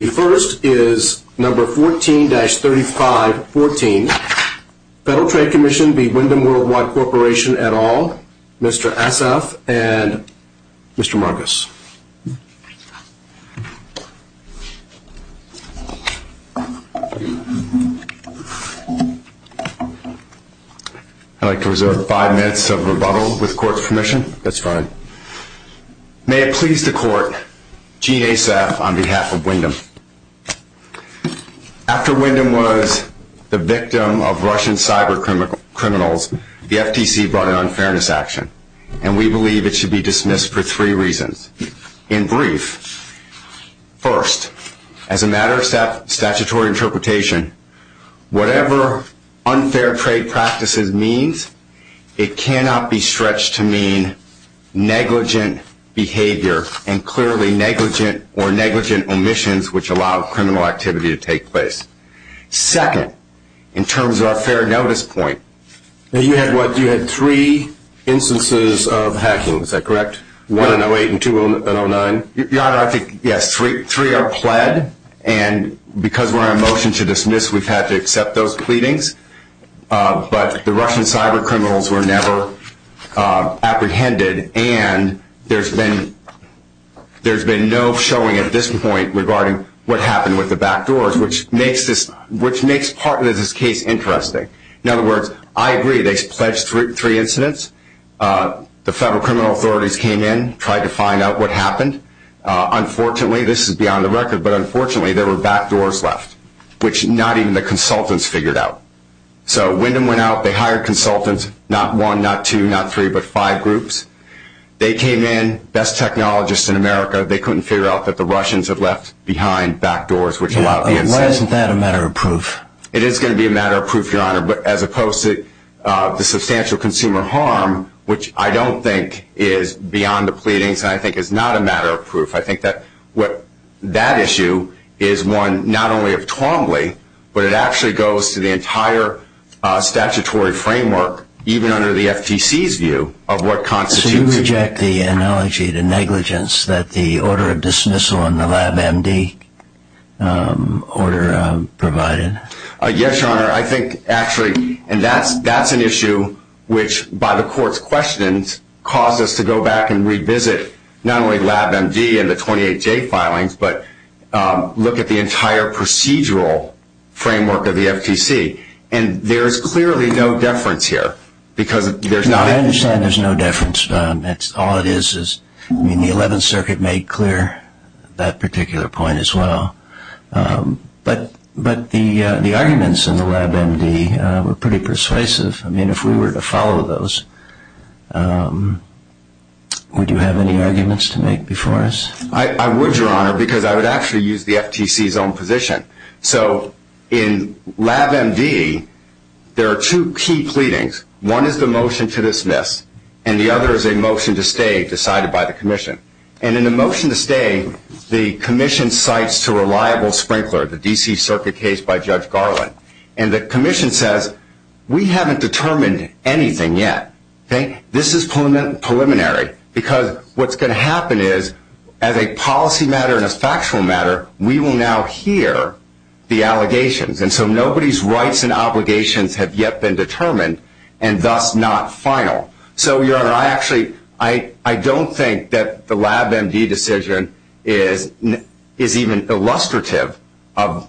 The first is No. 14-3514, Federal Trade Commission v. Wyndham Worldwide Corp, et.al, Mr. Asaf and Mr. Marcus. I'd like to reserve five minutes of rebuttal with the Court's permission. That's fine. May it please the Court, Gene Asaf on behalf of Wyndham. After Wyndham was the victim of Russian cyber criminals, the FTC brought an unfairness action, and we believe it should be dismissed for three reasons. In brief, first, as a matter of statutory interpretation, whatever unfair trade practices means, it cannot be stretched to mean negligent behavior and clearly negligent or negligent omissions which allow criminal activity to take place. Second, in terms of our fair notice point, you had what? You had three instances of hacking, is that correct? One in 08 and two in 09. Your Honor, I think, yes, three are pled, and because we're on motion to dismiss, we've had to accept those pleadings. But the Russian cyber criminals were never apprehended, and there's been no showing at this point regarding what happened with the back doors, which makes part of this case interesting. In other words, I agree. They pledged three incidents. The federal criminal authorities came in, tried to find out what happened. Unfortunately, this is beyond the record, but unfortunately, there were back doors left, which not even the consultants figured out. So Wyndham went out. They hired consultants, not one, not two, not three, but five groups. They came in, best technologists in America. They couldn't figure out that the Russians had left behind back doors, which allowed the incident. Why isn't that a matter of proof? It is going to be a matter of proof, Your Honor, but as opposed to the substantial consumer harm, which I don't think is beyond the pleadings, and I think it's not a matter of proof, I think that that issue is one not only of Twombly, but it actually goes to the entire statutory framework, even under the FTC's view, of what constitutes a— So you reject the analogy, the negligence, that the order of dismissal in the LabMD order provided? Yes, Your Honor. I think, actually, and that's an issue which, by the Court's questions, caused us to go back and revisit not only LabMD and the 28J filings, but look at the entire procedural framework of the FTC. And there is clearly no deference here, because there's not— I understand there's no deference. All it is is, I mean, the Eleventh Circuit made clear that particular point as well. But the arguments in the LabMD were pretty persuasive. I mean, if we were to follow those, would you have any arguments to make before us? I would, Your Honor, because I would actually use the FTC's own position. So in LabMD, there are two key pleadings. One is the motion to dismiss, and the other is a motion to stay decided by the Commission. And in the motion to stay, the Commission cites a reliable sprinkler, the D.C. Circuit case by Judge Garland. And the Commission says, we haven't determined anything yet. This is preliminary, because what's going to happen is, as a policy matter and a factual matter, we will now hear the allegations. And so nobody's rights and obligations have yet been determined, and thus not final. So, Your Honor, I actually—I don't think that the LabMD decision is even illustrative of—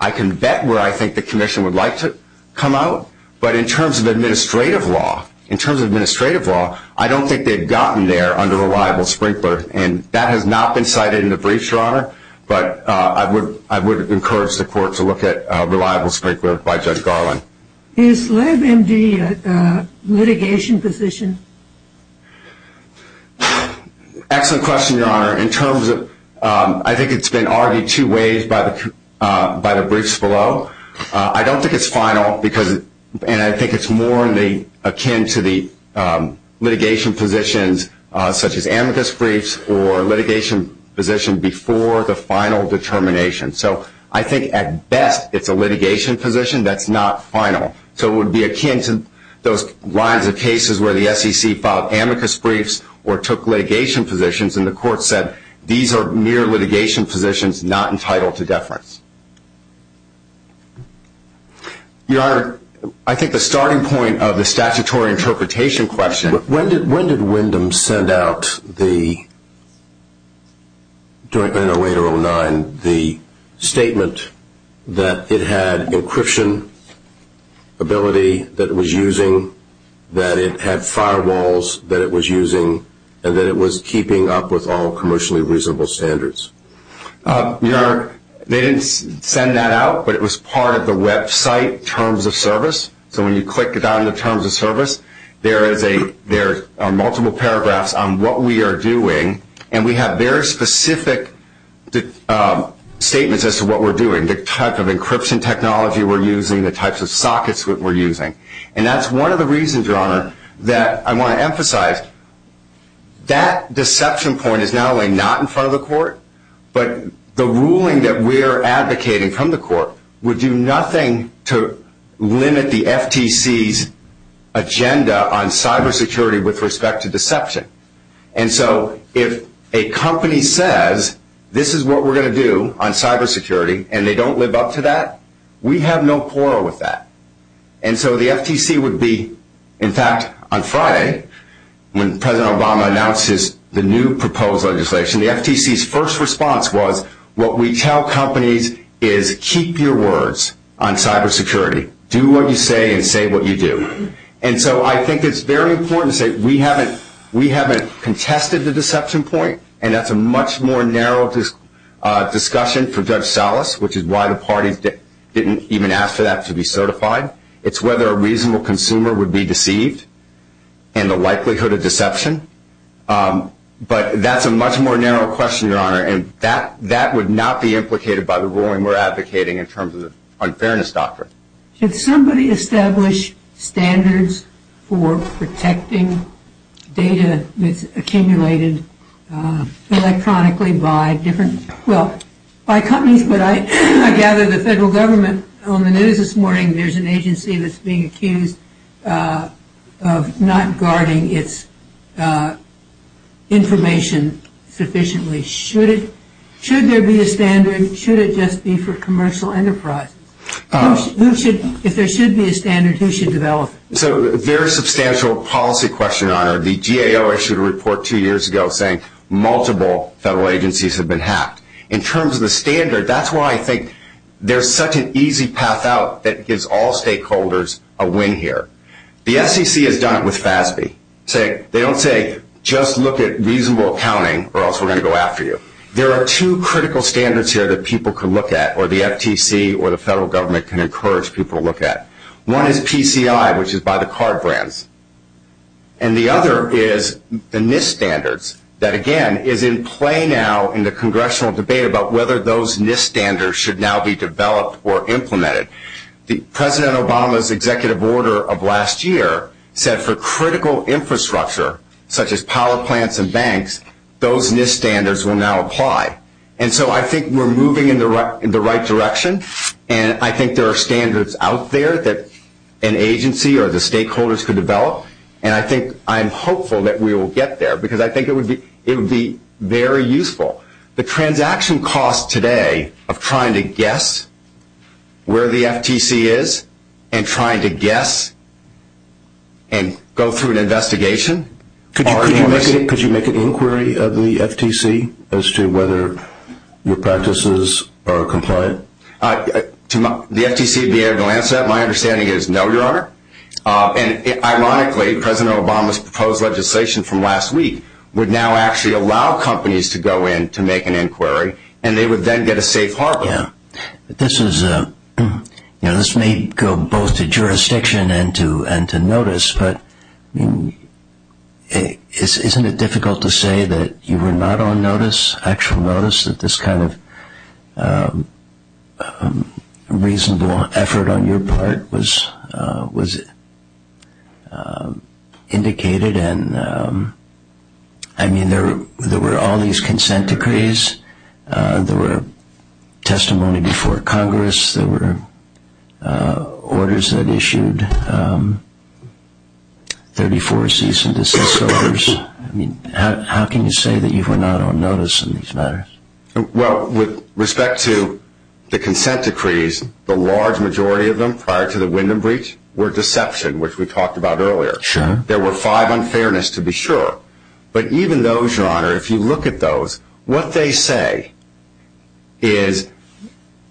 I can bet where I think the Commission would like to come out. But in terms of administrative law, in terms of administrative law, I don't think they've gotten there under reliable sprinkler. And that has not been cited in the brief, Your Honor. But I would encourage the Court to look at reliable sprinkler by Judge Garland. Is LabMD a litigation position? Excellent question, Your Honor. In terms of—I think it's been argued two ways by the briefs below. I don't think it's final, because—and I think it's more akin to the litigation positions, such as amicus briefs, or litigation position before the final determination. So I think, at best, it's a litigation position that's not final. So it would be akin to those lines of cases where the SEC filed amicus briefs or took litigation positions, and the Court said these are mere litigation positions not entitled to deference. Your Honor, I think the starting point of the statutory interpretation question— When did Wyndham send out, during 1908-09, the statement that it had encryption ability that it was using, that it had firewalls that it was using, and that it was keeping up with all commercially reasonable standards? Your Honor, they didn't send that out, but it was part of the website, Terms of Service. So when you click down to Terms of Service, there are multiple paragraphs on what we are doing, and we have very specific statements as to what we're doing, the type of encryption technology we're using, the types of sockets we're using. And that's one of the reasons, Your Honor, that I want to emphasize. That deception point is not only not in front of the Court, but the ruling that we're advocating from the Court would do nothing to limit the FTC's agenda on cybersecurity with respect to deception. And so if a company says, this is what we're going to do on cybersecurity, and they don't live up to that, we have no quarrel with that. And so the FTC would be, in fact, on Friday, when President Obama announces the new proposed legislation, the FTC's first response was, what we tell companies is keep your words on cybersecurity. Do what you say and say what you do. And so I think it's very important to say we haven't contested the deception point, and that's a much more narrow discussion for Judge Salas, which is why the party didn't even ask for that to be certified. It's whether a reasonable consumer would be deceived and the likelihood of deception. But that's a much more narrow question, Your Honor, and that would not be implicated by the ruling we're advocating in terms of the unfairness doctrine. Could somebody establish standards for protecting data that's accumulated electronically by different – well, by companies, but I gather the federal government – on the news this morning, there's an agency that's being accused of not guarding its information sufficiently. Should there be a standard? Should it just be for commercial enterprise? If there should be a standard, who should develop it? So a very substantial policy question, Your Honor. The GAO issued a report two years ago saying multiple federal agencies have been hacked. In terms of the standard, that's why I think there's such an easy pass-out that gives all stakeholders a win here. The SEC has done it with FASB. They don't say just look at reasonable accounting or else we're going to go after you. There are two critical standards here that people can look at, or the FTC or the federal government can encourage people to look at. One is PCI, which is by the card brands, And the other is the NIST standards that, again, is in play now in the congressional debate about whether those NIST standards should now be developed or implemented. President Obama's executive order of last year said for critical infrastructure, such as power plants and banks, those NIST standards will now apply. And so I think we're moving in the right direction, and I think there are standards out there that an agency or the stakeholders could develop, and I think I'm hopeful that we will get there because I think it would be very useful. The transaction cost today of trying to guess where the FTC is and trying to guess and go through an investigation. Could you make a little query of the FTC as to whether your practices are compliant? To the FTC's behavioral answer, my understanding is no, Your Honor. And ironically, President Obama's proposed legislation from last week would now actually allow companies to go in to make an inquiry, and they would then get a safe harbor. This may go both to jurisdiction and to notice, but isn't it difficult to say that you were not on notice, actual notice, that this kind of reasonable effort on your part was indicated? And, I mean, there were all these consent decrees. There were testimony before Congress. There were orders that issued 34 cease and desist orders. How can you say that you were not on notice in these matters? Well, with respect to the consent decrees, the large majority of them prior to the Wyndham breach were deception, which we talked about earlier. There were five unfairness to be sure, but even those, Your Honor, if you look at those, what they say is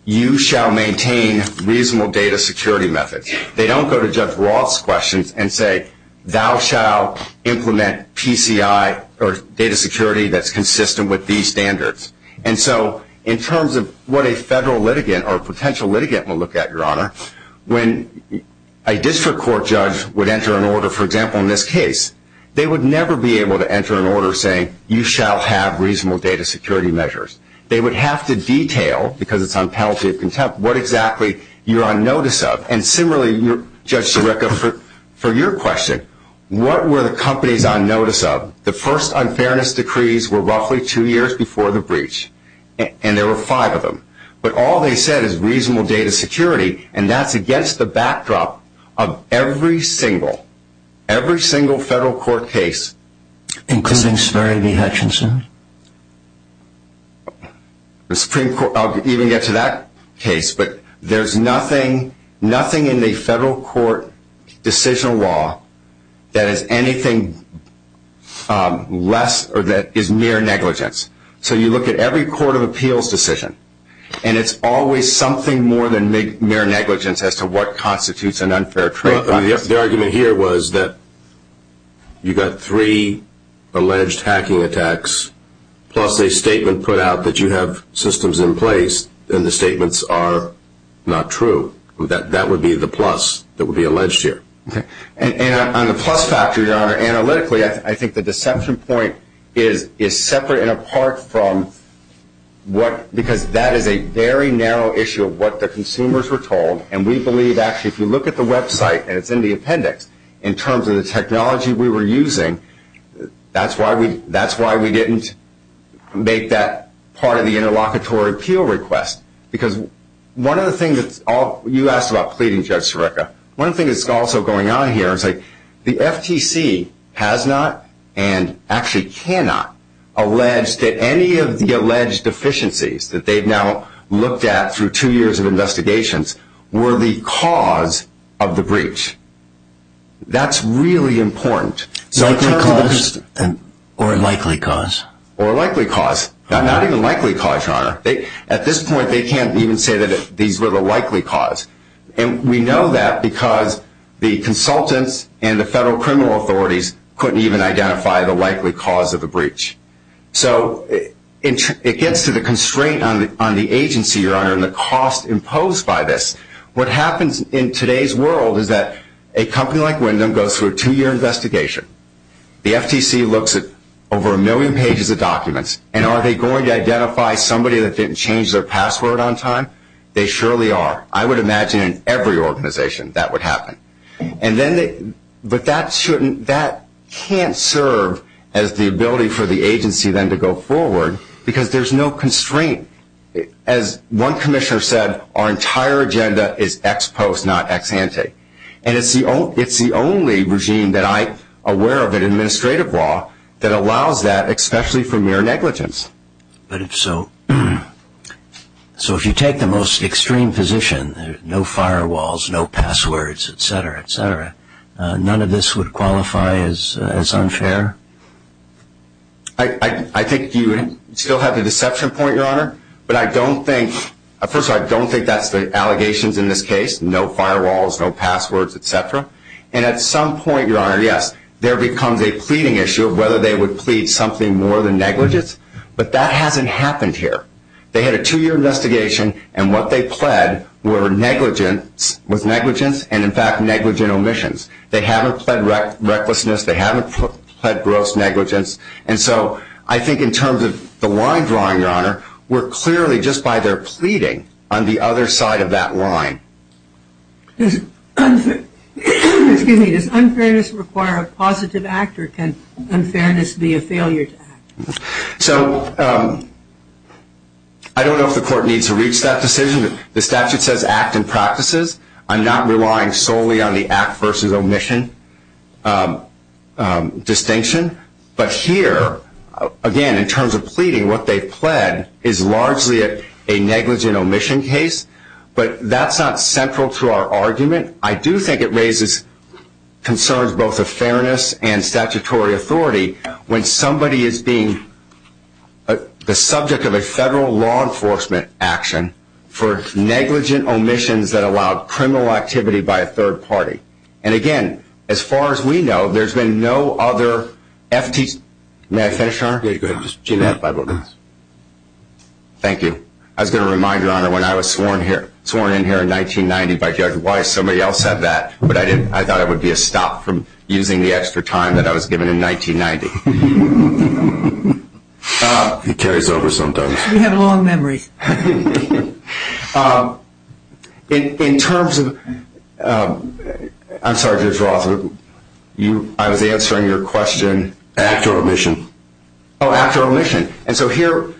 you shall maintain reasonable data security methods. They don't go to Judge Roth's questions and say, thou shall implement PCI or data security that's consistent with these standards. And so in terms of what a federal litigant or a potential litigant will look at, Your Honor, when a district court judge would enter an order, for example, in this case, they would never be able to enter an order saying you shall have reasonable data security measures. They would have to detail, because it's on penalty of contempt, what exactly you're on notice of. And similarly, Judge Sirica, for your question, what were the companies on notice of? The first unfairness decrees were roughly two years before the breach, and there were five of them. But all they said is reasonable data security, and that's against the backdrop of every single federal court case. Including Sperry v. Hutchinson? I'll even get to that case. But there's nothing in the federal court decision law that is anything less or that is mere negligence. So you look at every court of appeals decision, and it's always something more than mere negligence as to what constitutes an unfair treatment. The argument here was that you got three alleged hacking attacks, plus a statement put out that you have systems in place, and the statements are not true. That would be the plus that would be alleged here. And on the plus factor, Your Honor, analytically, I think the deception point is separate and apart from what – because that is a very narrow issue of what the consumers were told, and we believe, actually, if you look at the website, and it's in the appendix, in terms of the technology we were using, that's why we didn't make that part of the interlocutory appeal request. Because one of the things – you asked about pleading, Judge Sarekha. One thing that's also going on here is the FTC has not and actually cannot allege that any of the alleged deficiencies that they've now looked at through two years of investigations were the cause of the breach. That's really important. Likely cause or likely cause? Or likely cause. Not even likely cause, Your Honor. At this point, they can't even say that these were the likely cause. And we know that because the consultants and the federal criminal authorities couldn't even identify the likely cause of the breach. So it gets to the constraint on the agency, Your Honor, and the cost imposed by this. What happens in today's world is that a company like Wyndham goes through a two-year investigation. The FTC looks at over a million pages of documents, and are they going to identify somebody that didn't change their password on time? They surely are. I would imagine in every organization that would happen. But that can't serve as the ability for the agency then to go forward because there's no constraint. As one commissioner said, our entire agenda is ex post, not ex ante. And it's the only regime that I'm aware of in administrative law that allows that, especially for mere negligence. But if so, so if you take the most extreme position, no firewalls, no passwords, et cetera, et cetera, none of this would qualify as unfair? I think you still have the deception point, Your Honor. But I don't think, first of all, I don't think that's the allegations in this case. No firewalls, no passwords, et cetera. And at some point, Your Honor, yes, there becomes a pleading issue of whether they would plead something more than negligence. But that hasn't happened here. They had a two-year investigation, and what they pled were negligence, with negligence and, in fact, negligent omissions. They haven't pled recklessness. They haven't pled gross negligence. And so I think in terms of the line drawing, Your Honor, we're clearly just by their pleading on the other side of that line. Excuse me. Does unfairness require a positive actor? Can unfairness be a failure to act? So I don't know if the Court needs to reach that decision. The statute says act in practices. I'm not relying solely on the act versus omission distinction. But here, again, in terms of pleading, what they pled is largely a negligent omission case. But that's not central to our argument. I do think it raises concerns both of fairness and statutory authority when somebody is being the subject of a federal law enforcement action for negligent omissions that allow criminal activity by a third party. And, again, as far as we know, there's been no other FTEs. May I finish, Your Honor? Go ahead. Thank you. I was going to remind you, Your Honor, when I was sworn in here in 1990 by Judge Weiss, somebody else said that. But I thought it would be a stop from using the extra time that I was given in 1990. It carries over sometimes. You have a long memory. In terms of ‑‑ I'm sorry, Judge Rothman. I was answering your question after omission. Oh, after omission. And so here,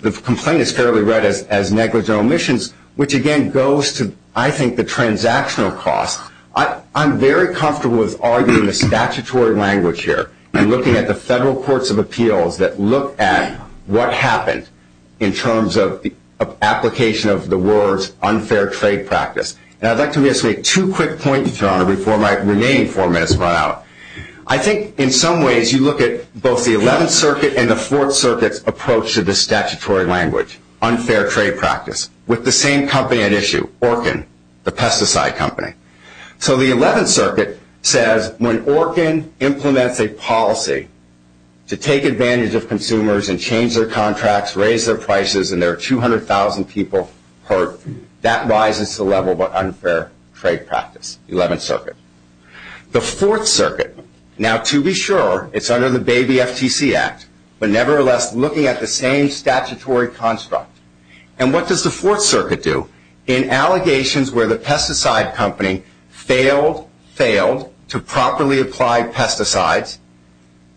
the complaint is fairly read as negligent omissions, which, again, goes to, I think, the transactional cost. I'm very comfortable with arguing the statutory language here and looking at the federal courts of appeals that look at what happened in terms of application of the words unfair trade practice. And I'd like to make two quick points, Your Honor, before my remaining four minutes run out. I think, in some ways, you look at both the 11th Circuit and the 4th Circuit approach to the statutory language, unfair trade practice, with the same company at issue, Orkin, the pesticide company. So the 11th Circuit says when Orkin implements a policy to take advantage of consumers and change their contracts, raise their prices, and there are 200,000 people hurt, that rises to the level of unfair trade practice, the 11th Circuit. The 4th Circuit, now to be sure, it's under the Baby FTC Act, but nevertheless looking at the same statutory construct. And what does the 4th Circuit do? In allegations where the pesticide company failed, failed to properly apply pesticides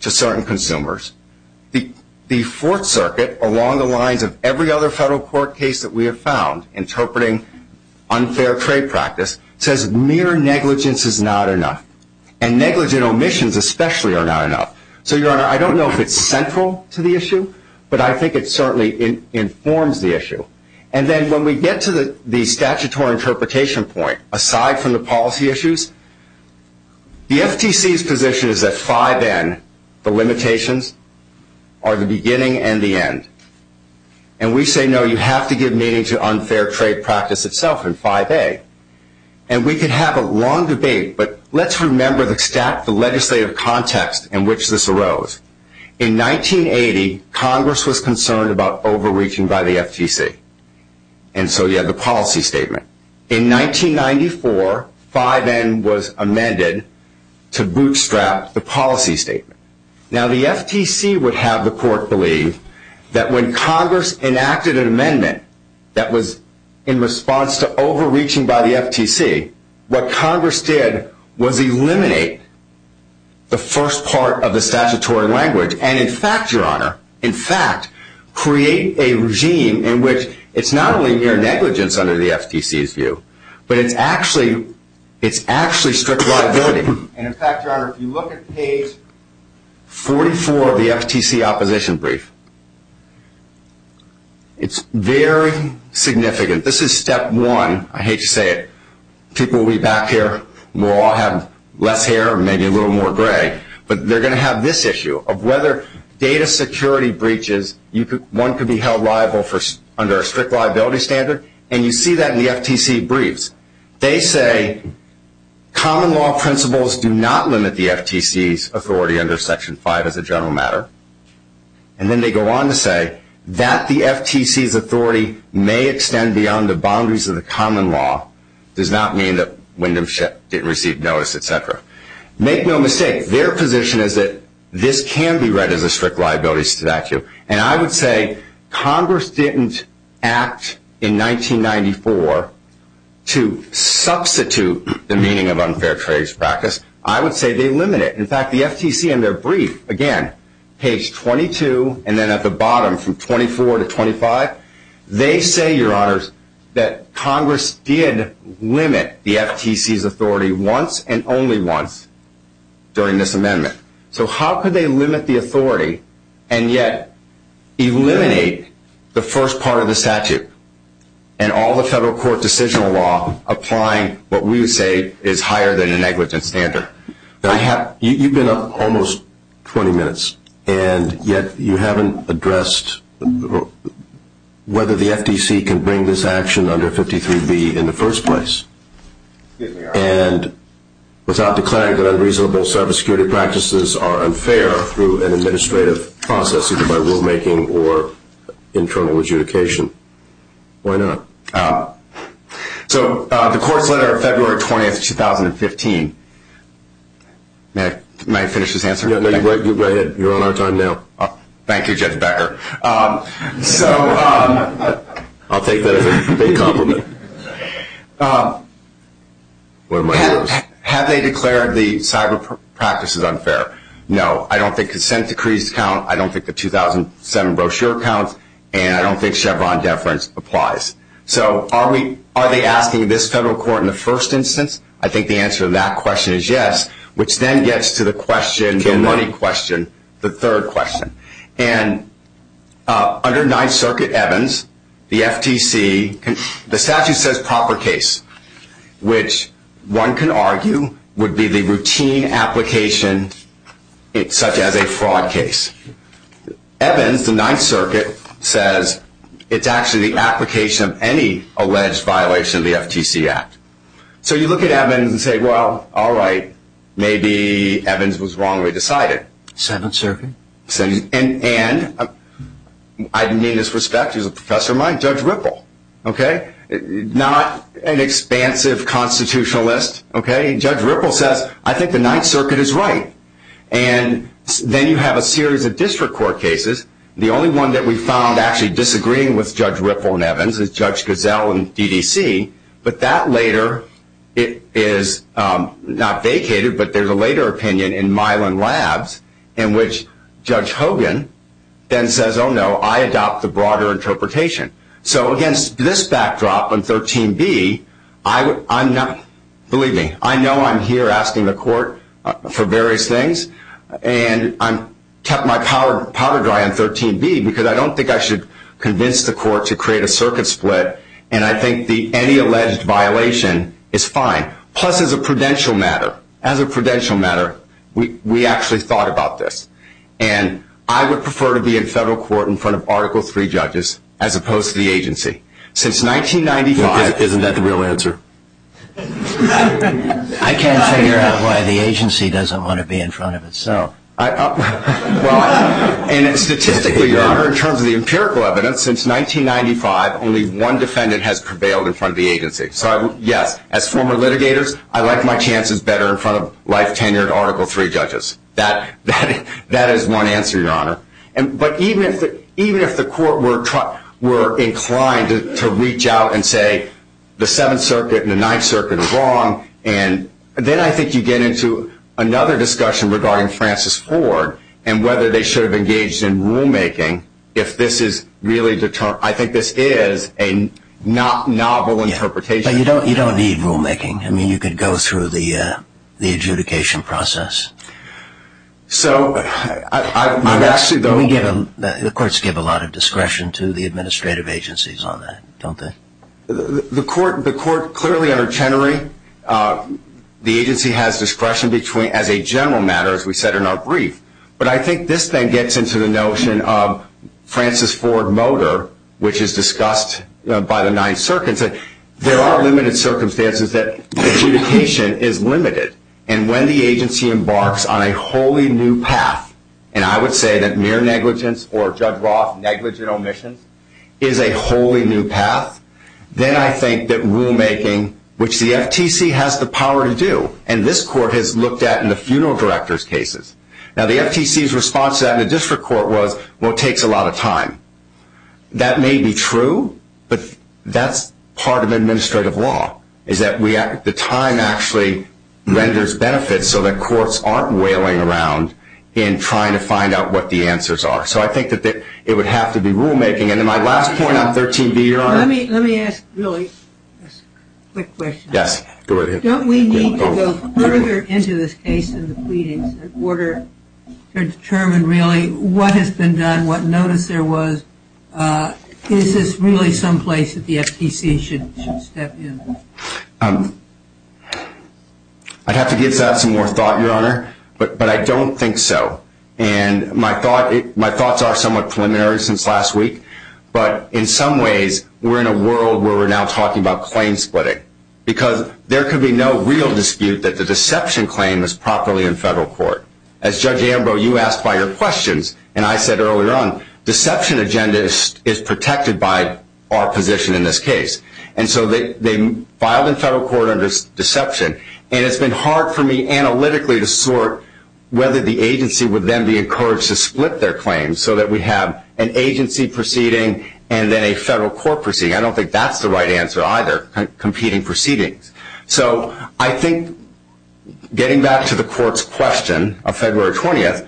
to certain consumers, the 4th Circuit, along the lines of every other federal court case that we have found interpreting unfair trade practice, says mere negligence is not enough. And negligent omissions especially are not enough. So, Your Honor, I don't know if it's central to the issue, but I think it certainly informs the issue. And then when we get to the statutory interpretation point, aside from the policy issues, the FTC's position is that 5N, the limitations, are the beginning and the end. And we say, no, you have to give meaning to unfair trade practice itself in 5A. And we could have a long debate, but let's remember the legislative context in which this arose. In 1980, Congress was concerned about overreaching by the FTC. And so you have the policy statement. In 1994, 5N was amended to bootstrap the policy statement. Now, the FTC would have the court believe that when Congress enacted an amendment that was in response to overreaching by the FTC, what Congress did was eliminate the first part of the statutory language and, in fact, Your Honor, in fact, create a regime in which it's not only mere negligence under the FTC's view, but it's actually strict liability. And, in fact, Your Honor, if you look at page 44 of the FTC opposition brief, it's very significant. This is step one. I hate to say it. People will be back here. We'll all have less hair or maybe a little more gray. But they're going to have this issue of whether data security breaches, one could be held liable under a strict liability standard, and you see that in the FTC briefs. They say common law principles do not limit the FTC's authority under Section 5 as a general matter. And then they go on to say that the FTC's authority may extend beyond the boundaries of the common law. It does not mean that Wyndham didn't receive notice, et cetera. Make no mistake, their position is that this can be read as a strict liability statute. And I would say Congress didn't act in 1994 to substitute the meaning of unfair trade practice. I would say they limit it. In fact, the FTC in their brief, again, page 22 and then at the bottom from 24 to 25, they say, Your Honors, that Congress did limit the FTC's authority once and only once during this amendment. So how could they limit the authority and yet eliminate the first part of the statute and all the federal court decision law applying what we say is higher than a negligence standard? You've been up almost 20 minutes, and yet you haven't addressed whether the FTC can bring this action under 53B in the first place. And without declaring that unreasonable service security practices are unfair through an administrative process either by rulemaking or internal adjudication. Why not? So the court's letter of February 20, 2015. May I finish this answer? You're on our time now. Thank you, Judge Becker. So I'll take that as a compliment. Have they declared the cyber practices unfair? No. I don't think consent decrees count. I don't think the 2007 brochure counts. And I don't think Chevron deference applies. So are they asking this federal court in the first instance? I think the answer to that question is yes, which then gets to the money question, the third question. And under Ninth Circuit Evans, the FTC, the statute says proper case, which one can argue would be the routine application such as a fraud case. Evans, the Ninth Circuit, says it's actually the application of any alleged violation of the FTC Act. So you look at Evans and say, well, all right, maybe Evans was wrongly decided. Seventh Circuit? And I didn't mean this with respect. He's a professor of mine, Judge Ripple. Okay? Not an expansive constitutionalist. Okay? Judge Ripple says, I think the Ninth Circuit is right. And then you have a series of district court cases. The only one that we found actually disagreeing with Judge Ripple and Evans is Judge Goodell and EDC. But that later is not vacated, but there's a later opinion in Milan Labs in which Judge Hogan then says, oh, no, I adopt the broader interpretation. So, again, this backdrop on 13B, I'm not ñ believe me, I know I'm here asking the court for various things. And I'm tucking my powder dry on 13B because I don't think I should convince the court to create a circuit split. And I think any alleged violation is fine. Plus, as a prudential matter, as a prudential matter, we actually thought about this. And I would prefer to be in federal court in front of Article III judges as opposed to the agency. Since 1995 ñ Isn't that the real answer? I can't figure out why the agency doesn't want to be in front of itself. And statistically, Your Honor, in terms of the empirical evidence, since 1995, only one defendant has prevailed in front of the agency. So, yes, as former litigators, I like my chances better in front of life tenure and Article III judges. That is one answer, Your Honor. But even if the court were inclined to reach out and say the Seventh Circuit and the Ninth Circuit are wrong, and then I think you get into another discussion regarding Francis Ford and whether they should have engaged in rulemaking if this is really the term. I think this is a novel interpretation. But you don't need rulemaking. I mean, you could go through the adjudication process. So I would actually go ñ The courts give a lot of discretion to the administrative agencies on that, don't they? The courts clearly are tenuring. The agency has discretion as a general matter, as we said in our brief. But I think this then gets into the notion of Francis Ford Motor, which is discussed by the Ninth Circuit. There are limited circumstances that adjudication is limited. And when the agency embarks on a wholly new path, and I would say that mere negligence or drug-wrought negligent omission is a wholly new path, then I think that rulemaking, which the FTC has the power to do, and this court has looked at in the funeral director's cases. Now, the FTC's response to that in the district court was, well, it takes a lot of time. That may be true, but that's part of administrative law, is that the time actually renders benefits so that courts aren't wailing around in trying to find out what the answers are. So I think that it would have to be rulemaking. And then my last point on 13B, your Honor. Let me ask really a quick question. Yes, go ahead. Don't we need to go further into this case in the pleading order to determine really what has been done, what notice there was? Is this really someplace that the FTC should step in? I'd have to give that some more thought, your Honor, but I don't think so. And my thoughts are somewhat preliminary since last week, but in some ways we're in a world where we're now talking about claim splitting, because there could be no real dispute that the deception claim was properly in federal court. As Judge Ambrose, you asked by your questions, and I said earlier on, deception agenda is protected by our position in this case. And so they filed in federal court under deception, and it's been hard for me analytically to sort whether the agency would then be encouraged to split their claims so that we have an agency proceeding and then a federal court proceeding. I don't think that's the right answer either, competing proceedings. So I think getting back to the court's question of February 20th,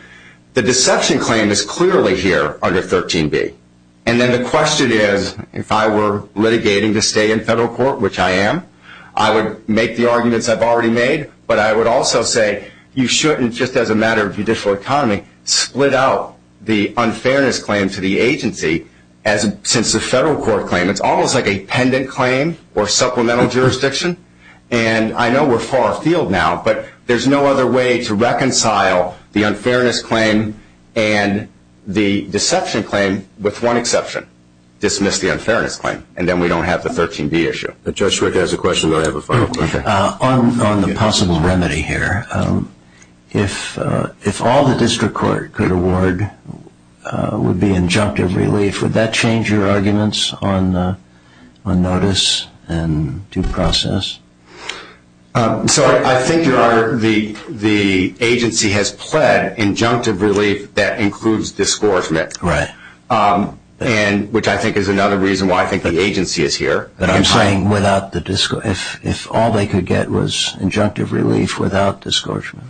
the deception claim is clearly here under 13B. And then the question is if I were litigating to stay in federal court, which I am, I would make the arguments I've already made, but I would also say you shouldn't, just as a matter of judicial economy, split out the unfairness claim to the agency since the federal court claim. It's almost like a pendant claim or supplemental jurisdiction. And I know we're far afield now, but there's no other way to reconcile the unfairness claim and the deception claim with one exception, dismiss the unfairness claim. And then we don't have the 13B issue. The judge has a question. On the possible remedy here, if all the district court could award would be injunctive relief, would that change your arguments on notice and due process? So I think, Your Honor, the agency has pled injunctive relief that includes discouragement, which I think is another reason why I think the agency is here. But I'm saying if all they could get was injunctive relief without discouragement.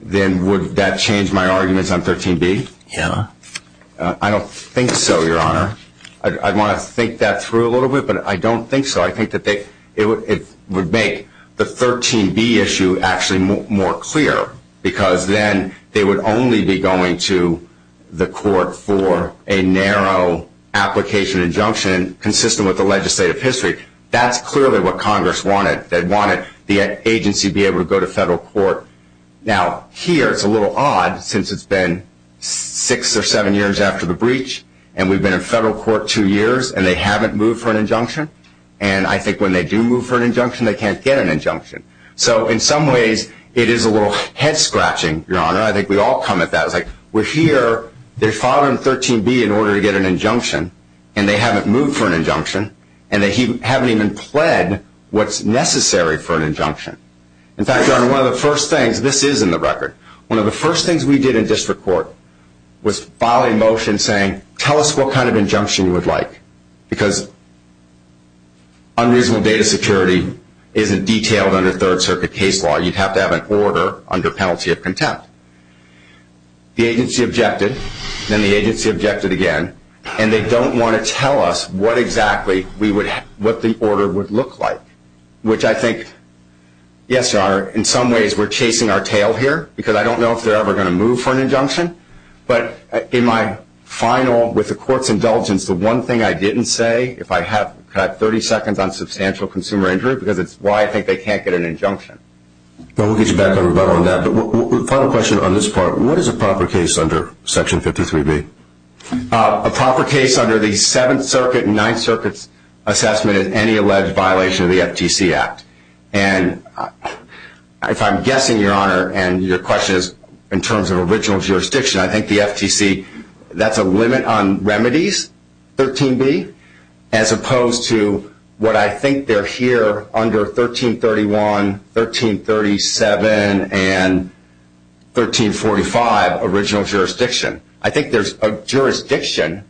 Then would that change my arguments on 13B? Yeah. I don't think so, Your Honor. I'd want to think that through a little bit, but I don't think so. I think that it would make the 13B issue actually more clear, because then they would only be going to the court for a narrow application injunction consistent with the legislative history. That's clearly what Congress wanted. They wanted the agency to be able to go to federal court. Now, here it's a little odd since it's been six or seven years after the breach, and we've been in federal court two years, and they haven't moved for an injunction. And I think when they do move for an injunction, they can't get an injunction. So in some ways it is a little head scratching, Your Honor. I think we all come at that. We're here, they filed on 13B in order to get an injunction, and they haven't moved for an injunction, and they haven't even pled what's necessary for an injunction. In fact, Your Honor, one of the first things, this is in the record, one of the first things we did in district court was file a motion saying, tell us what kind of injunction you would like, because unreasonable data security isn't detailed under Third Circuit case law. You'd have to have an order under penalty of contempt. The agency objected, then the agency objected again, and they don't want to tell us what exactly the order would look like, which I think, yes, Your Honor, in some ways we're chasing our tail here, because I don't know if they're ever going to move for an injunction. But in my final, with the court's indulgence, the one thing I didn't say, if I have 30 seconds on substantial consumer injury, because it's why I think they can't get an injunction. Well, we'll get you back on that. But part of the question on this part, what is a proper case under Section 53B? A proper case under the Seventh Circuit and Ninth Circuit's assessment is any alleged violation of the FTC Act. And if I'm guessing, Your Honor, and your question is in terms of original jurisdiction, I think the FTC, that's a limit on remedies, 13B, as opposed to what I think they're here under 1331, 1337, and 1345, original jurisdiction. I think there's a jurisdiction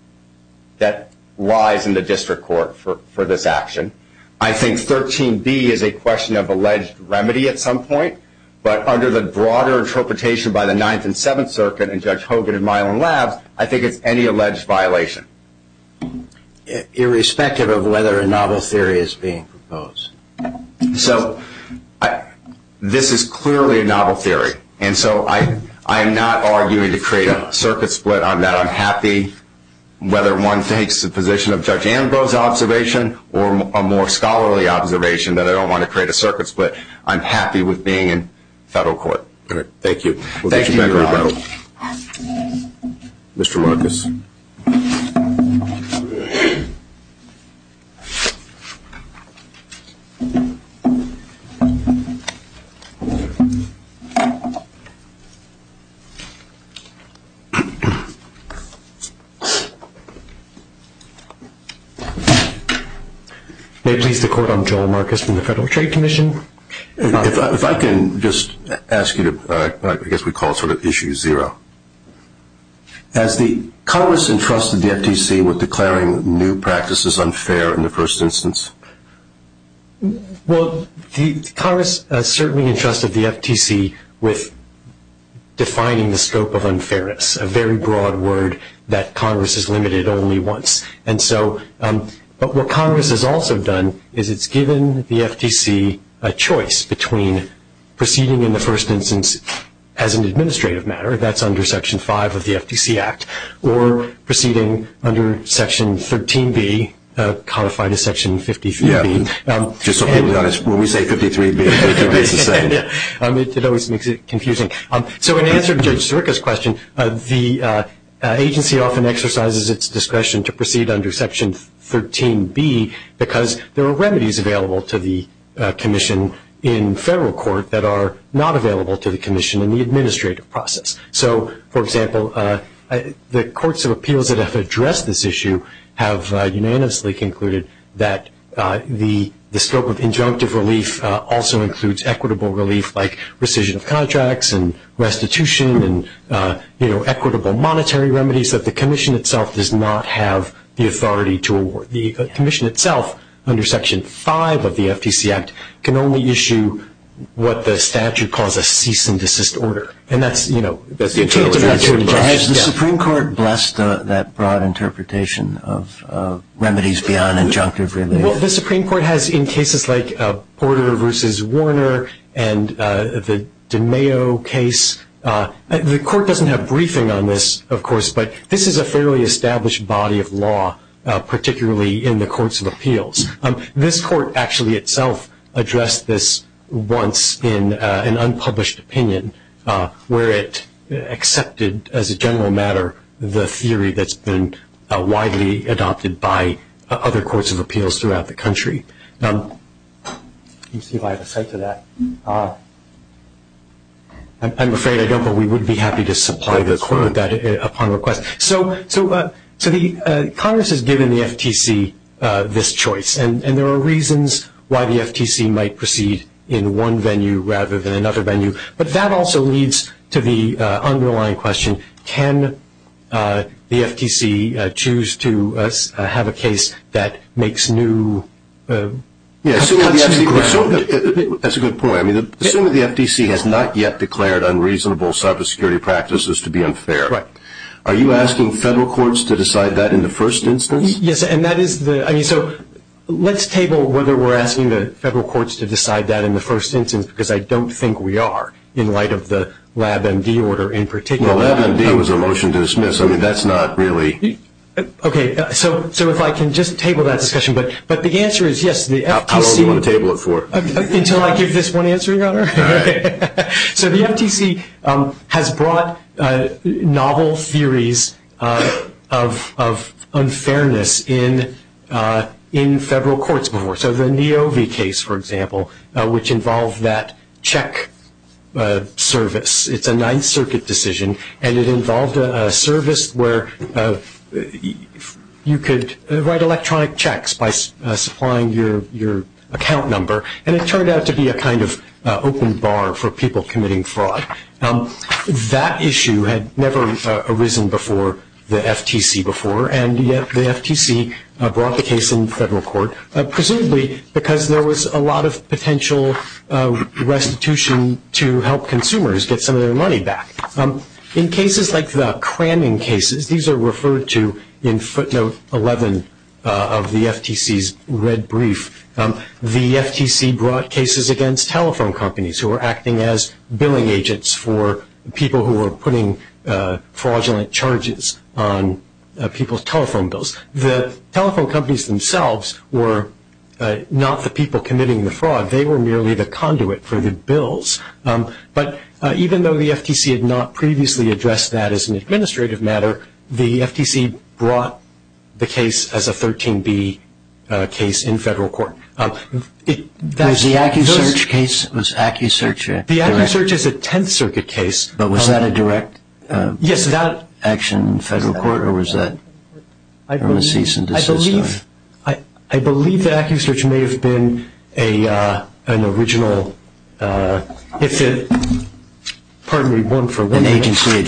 that lies in the district court for this action. I think 13B is a question of alleged remedy at some point, but under the broader interpretation by the Ninth and Seventh Circuit and Judge Hogan in Milan Labs, I think it's any alleged violation. Irrespective of whether a novel theory is being proposed. So this is clearly a novel theory. And so I'm not arguing to create a circuit split on that. I'm happy whether one takes the position of Judge Ambrose's observation or a more scholarly observation that I don't want to create a circuit split. I'm happy with being in federal court. Thank you. Thank you, Your Honor. Mr. Marcus. Thank you. May it please the Court, I'm Joel Marcus from the Federal Trade Commission. If I can just ask you to, I guess we call sort of issue zero. Has the Congress entrusted the FTC with declaring new practices unfair in the first instance? Well, Congress certainly entrusted the FTC with defining the scope of unfairness, a very broad word that Congress has limited only once. And so what Congress has also done is it's given the FTC a choice between proceeding in the first instance as an administrative matter, that's under Section 5 of the FTC Act, or proceeding under Section 13B, codified as Section 53. Yeah. When we say 53, we mean Section 53. That always makes it confusing. So in answer to Sirica's question, the agency often exercises its discretion to proceed under Section 13B because there are remedies available to the commission in federal court that are not available to the commission in the administrative process. So, for example, the courts of appeals that have addressed this issue have unanimously concluded that the scope of injunctive relief also includes equitable relief like rescission of contracts and restitution and, you know, equitable monetary remedies that the commission itself does not have the authority to award. The commission itself under Section 5 of the FTC Act can only issue what the statute calls a cease and desist order, and that's, you know, that's the case. Has the Supreme Court blessed that broad interpretation of remedies beyond injunctive relief? Well, the Supreme Court has in cases like Porter v. Warner and the DeMayo case. The court doesn't have briefing on this, of course, but this is a fairly established body of law, particularly in the courts of appeals. This court actually itself addressed this once in an unpublished opinion where it accepted, as a general matter, the theory that's been widely adopted by other courts of appeals throughout the country. Let me see if I have a cite for that. I'm afraid I don't, but we would be happy to supply the court with that upon request. So Congress has given the FTC this choice, and there are reasons why the FTC might proceed in one venue rather than another venue, but that also leads to the underlying question, can the FTC choose to have a case that makes new. That's a good point. Assuming the FTC has not yet declared unreasonable cybersecurity practices to be unfair, are you asking federal courts to decide that in the first instance? Yes, and that is the – so let's table whether we're asking the federal courts to decide that in the first instance because I don't think we are in light of the LabMD order in particular. LabMD was a motion to dismiss. I mean, that's not really – Okay, so if I can just table that discussion, but the answer is yes. How long do you want to table it for? Until I give this one answer, Your Honor. So the FTC has brought novel theories of unfairness in federal courts before. So the Neo V case, for example, which involved that check service, it's a Ninth Circuit decision, and it involved a service where you could write electronic checks by supplying your account number, and it turned out to be a kind of open bar for people committing fraud. That issue had never arisen before the FTC before, and yet the FTC brought the case in federal court, presumably because there was a lot of potential restitution to help consumers get some of their money back. In cases like the Cramming cases, these are referred to in footnote 11 of the FTC's red brief, the FTC brought cases against telephone companies who were acting as billing agents for people who were putting fraudulent charges on people's telephone bills. The telephone companies themselves were not the people committing the fraud. They were merely the conduit for the bills. But even though the FTC had not previously addressed that as an administrative matter, the FTC brought the case as a 13B case in federal court. Was the AccuSearch case? The AccuSearch is a Tenth Circuit case. But was that a direct action in federal court, or was that permanent cease and desist? I believe the AccuSearch may have been an original, pardon me, one for one agency.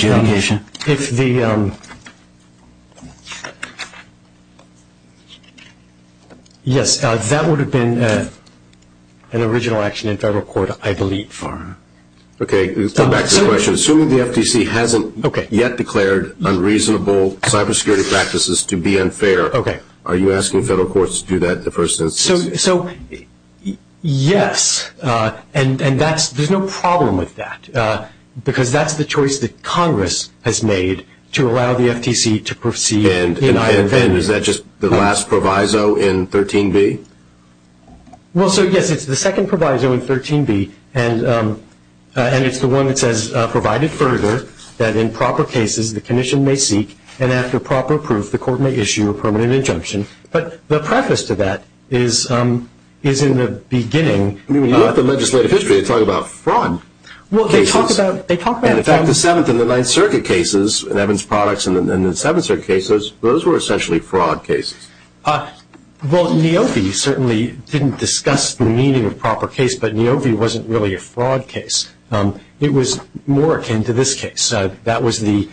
Yes, that would have been an original action in federal court, I believe. Okay, let's go back to the question. Assuming the FTC hasn't yet declared unreasonable cybersecurity practices to be unfair, are you asking federal courts to do that in the first instance? Yes, and there's no problem with that, because that's the choice that Congress has made to allow the FTC to proceed in either direction. And is that just the last proviso in 13B? Well, so, yes, it's the second proviso in 13B, and it's the one that says, provided further, that in proper cases, the condition may seek, and after proper proof, the court may issue a permanent injunction. But the preface to that is in the beginning. I mean, you want the legislative history to talk about fraud. Well, they talk about fraud. In fact, the Seventh and the Ninth Circuit cases, Evans Products and the Seventh Circuit cases, those were essentially fraud cases. Well, Niobe certainly didn't discuss the meaning of proper case, but Niobe wasn't really a fraud case. It was more akin to this case. That was the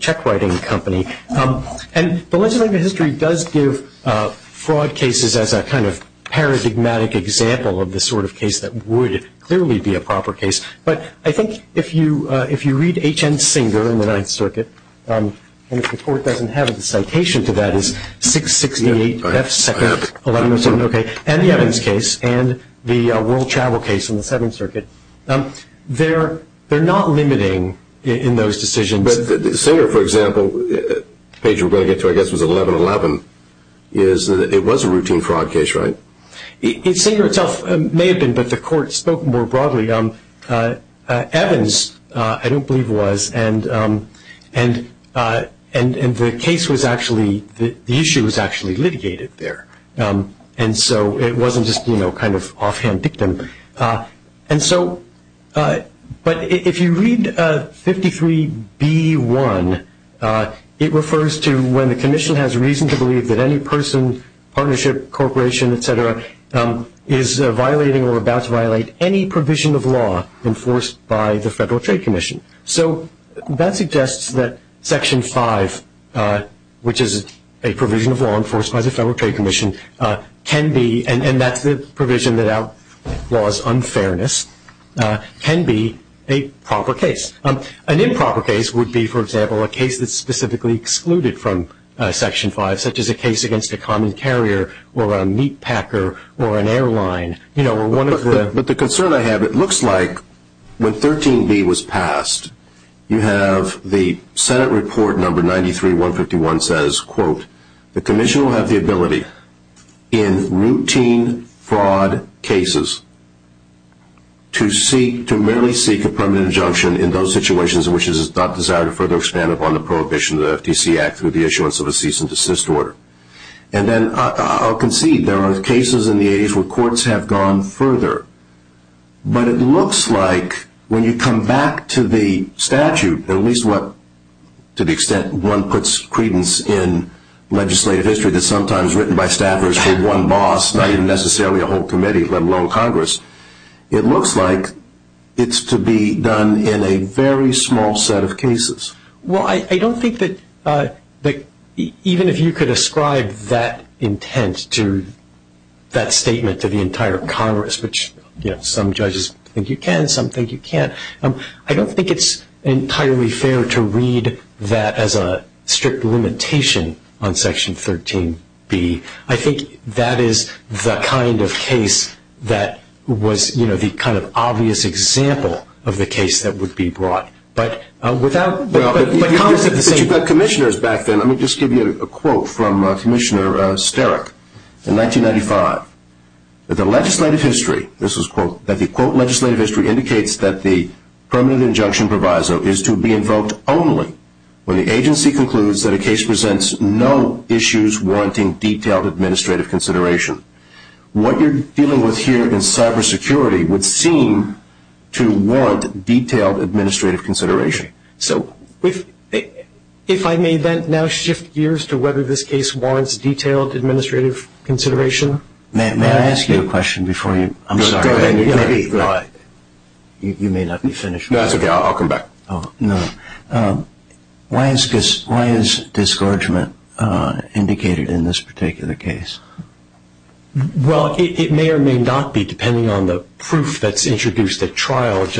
check wagon company. And the legislative history does give fraud cases as a kind of paradigmatic example of the sort of case that would clearly be a proper case. But I think if you read H. N. Singer in the Ninth Circuit, and if the court doesn't have a citation for that, it's 668 F. Second, 1107 OK, and the Evans case and the World Travel case in the Seventh Circuit, they're not limiting in those decisions. But Singer, for example, the page we're going to get to, I guess, is 1111, is that it was a routine fraud case, right? Singer itself may have been, but the court spoke more broadly. Evans, I don't believe, was, and the case was actually, the issue was actually litigated there. And so it wasn't just, you know, kind of offhand dictum. And so, but if you read 53B1, it refers to when the commission has reason to believe that any person, partnership, corporation, et cetera, is violating or about to violate any provision of law enforced by the Federal Trade Commission. So that suggests that Section 5, which is a provision of law enforced by the Federal Trade Commission, can be, and that's the provision without laws unfairness, can be a proper case. An improper case would be, for example, a case that's specifically excluded from Section 5, such as a case against a common carrier or a meat packer or an airline, you know, or one of the. But the concern I have, it looks like when 13B was passed, you have the Senate report number 93151 says, quote, the commission will have the ability in routine fraud cases to merely seek a permanent injunction in those situations in which it is not desired to further expand upon the prohibition of the FTC Act with the assurance of a cease and desist order. And then I'll concede there are cases in the age where courts have gone further, but it looks like when you come back to the statute, at least to the extent one puts credence in legislative history that's sometimes written by staffers for one boss, not even necessarily a whole committee, let alone Congress, it looks like it's to be done in a very small set of cases. Well, I don't think that even if you could ascribe that intent to that statement to the entire Congress, which some judges think you can, some think you can't, I don't think it's entirely fair to read that as a strict limitation on Section 13B. I think that is the kind of case that was, you know, the kind of obvious example of the case that would be brought. But with that... But you've got commissioners back then. Let me just give you a quote from Commissioner Sterik. In 1995, the legislative history, this is a quote, that the quote legislative history indicates that the permanent injunction proviso is to be invoked only when the agency concludes that a case presents no issues warranting detailed administrative consideration. What you're dealing with here in cybersecurity would seem to warrant detailed administrative consideration. So if I may then now shift gears to whether this case warrants detailed administrative consideration. May I ask you a question before you... I'm sorry. You may let me finish. That's okay. I'll come back. No. Why is discouragement indicated in this particular case? Well, it may or may not be, depending on the proof that's introduced at trial, if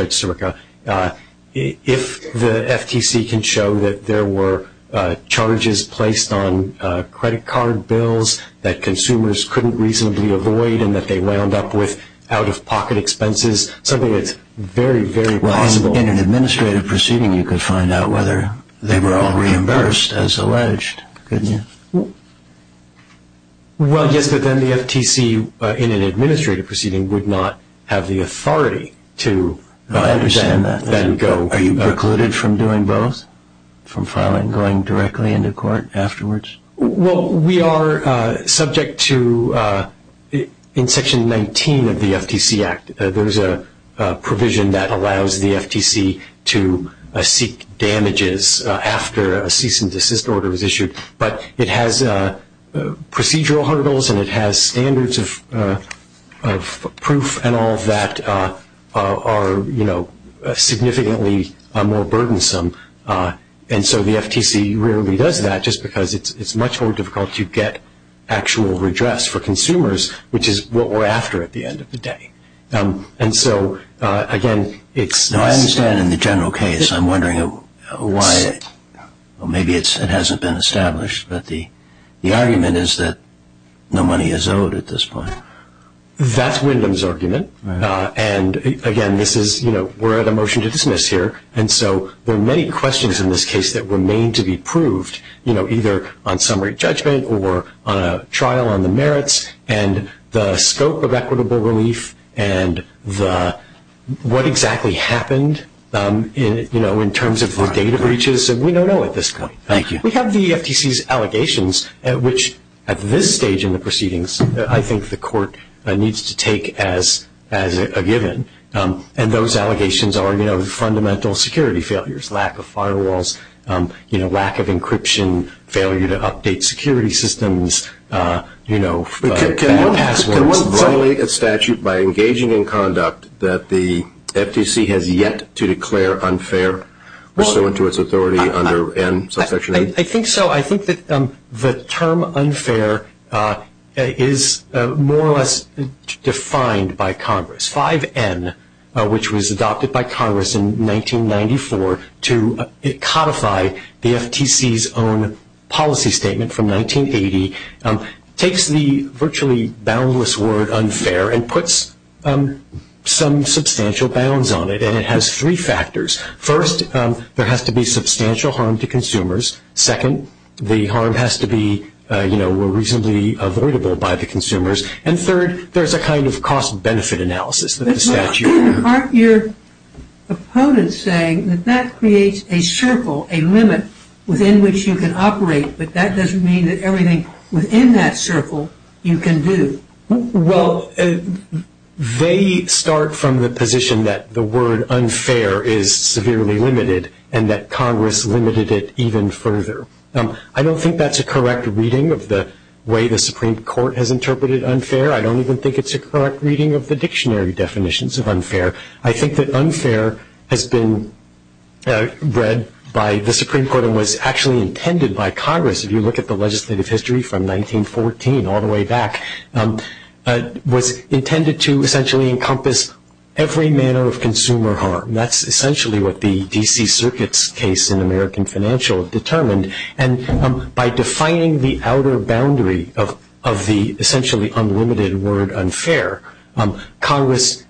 the FTC can show that there were charges placed on credit card bills that consumers couldn't reasonably avoid and that they wound up with out-of-pocket expenses, something that's very, very possible. Well, in an administrative proceeding, you could find out whether they were all reimbursed as alleged, couldn't you? Well, yes, but then the FTC, in an administrative proceeding, would not have the authority to... I understand that. ...then go. Are you precluded from doing both? From filing, going directly into court afterwards? Well, we are subject to, in Section 19 of the FTC Act, there's a provision that allows the FTC to seek damages after a cease-and-desist order is issued, but it has procedural hurdles and it has standards of proof and all of that are significantly more burdensome, and so the FTC rarely does that just because it's much more difficult to get actual redress for consumers, which is what we're after at the end of the day. And so, again, it's... No, I understand in the general case. I'm wondering why it...well, maybe it hasn't been established, but the argument is that no money is owed at this point. That's Wyndham's argument, and, again, this is, you know, we're at a motion to dismiss here, and so there are many questions in this case that remain to be proved, you know, either on summary judgment or on a trial on the merits and the scope of equitable relief and what exactly happened, you know, in terms of the data breaches, and we don't know at this point. We have the FTC's allegations, which, at this stage in the proceedings, I think the court needs to take as a given, and those allegations are, you know, fundamental security failures, lack of firewalls, you know, lack of encryption, failure to update security systems, you know... Can we regulate a statute by engaging in conduct that the FTC has yet to declare unfair, pursuant to its authority under M, Subsection 8? I think so. I think that the term unfair is more or less defined by Congress. 5N, which was adopted by Congress in 1994 to codify the FTC's own policy statement from 1980, takes the virtually boundless word unfair and puts some substantial bounds on it, and it has three factors. First, there has to be substantial harm to consumers. Second, the harm has to be, you know, reasonably avoidable by the consumers. And third, there's a kind of cost-benefit analysis that the statute... Aren't your opponents saying that that creates a circle, a limit within which you can operate, that that doesn't mean that everything within that circle you can do? Well, they start from the position that the word unfair is severely limited and that Congress limited it even further. I don't think that's a correct reading of the way the Supreme Court has interpreted unfair. I don't even think it's a correct reading of the dictionary definitions of unfair. I think that unfair has been read by the Supreme Court and was actually intended by Congress. If you look at the legislative history from 1914 all the way back, it was intended to essentially encompass every manner of consumer harm. That's essentially what the D.C. Circuit's case in American Financials determined. And by defining the outer boundary of the essentially unlimited word unfair, Congress,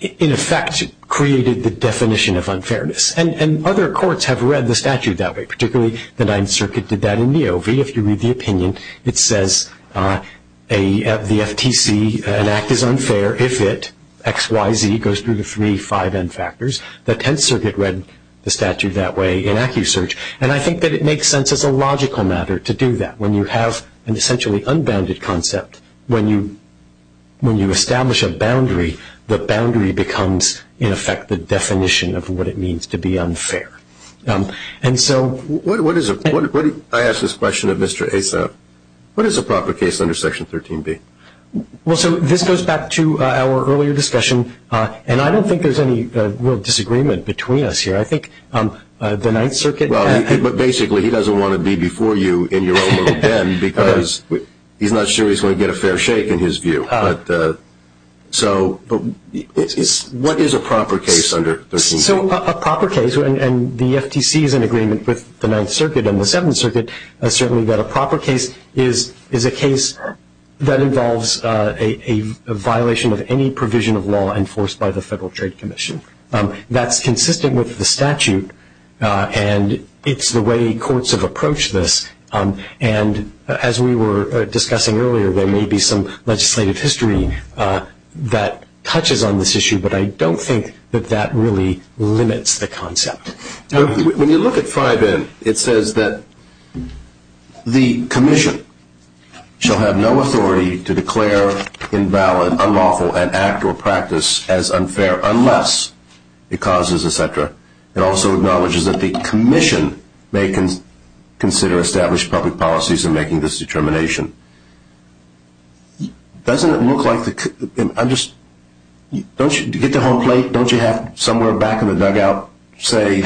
in effect, created the definition of unfairness. And other courts have read the statute that way, particularly the Ninth Circuit did that in the OV. If you read the opinion, it says the FTC, an act is unfair if it, X, Y, Z, goes through the three 5N factors. The Tenth Circuit read the statute that way in AccuSearch. And I think that it makes sense as a logical matter to do that. When you have an essentially unbounded concept, when you establish a boundary, the boundary becomes, in effect, the definition of what it means to be unfair. And so what is a proper case under Section 13B? Well, so this goes back to our earlier discussion. And I don't think there's any real disagreement between us here. I think the Ninth Circuit – Well, but basically he doesn't want to be before you in your own little den because he's not sure he's going to get a fair shake in his view. So what is a proper case under 13B? So a proper case, and the FTC is in agreement with the Ninth Circuit and the Seventh Circuit, certainly that a proper case is a case that involves a violation of any provision of law enforced by the Federal Trade Commission. That's consistent with the statute, and it's the way courts have approached this. And as we were discussing earlier, there may be some legislative history that touches on this issue, but I don't think that that really limits the concept. When you look at 5N, it says that the commission shall have no authority to declare invalid, unlawful, an act or practice as unfair unless it causes etc. It also acknowledges that the commission may consider established public policies in making this determination. Doesn't it look like – don't you get the whole thing? Don't you have somewhere back in the dugout, say,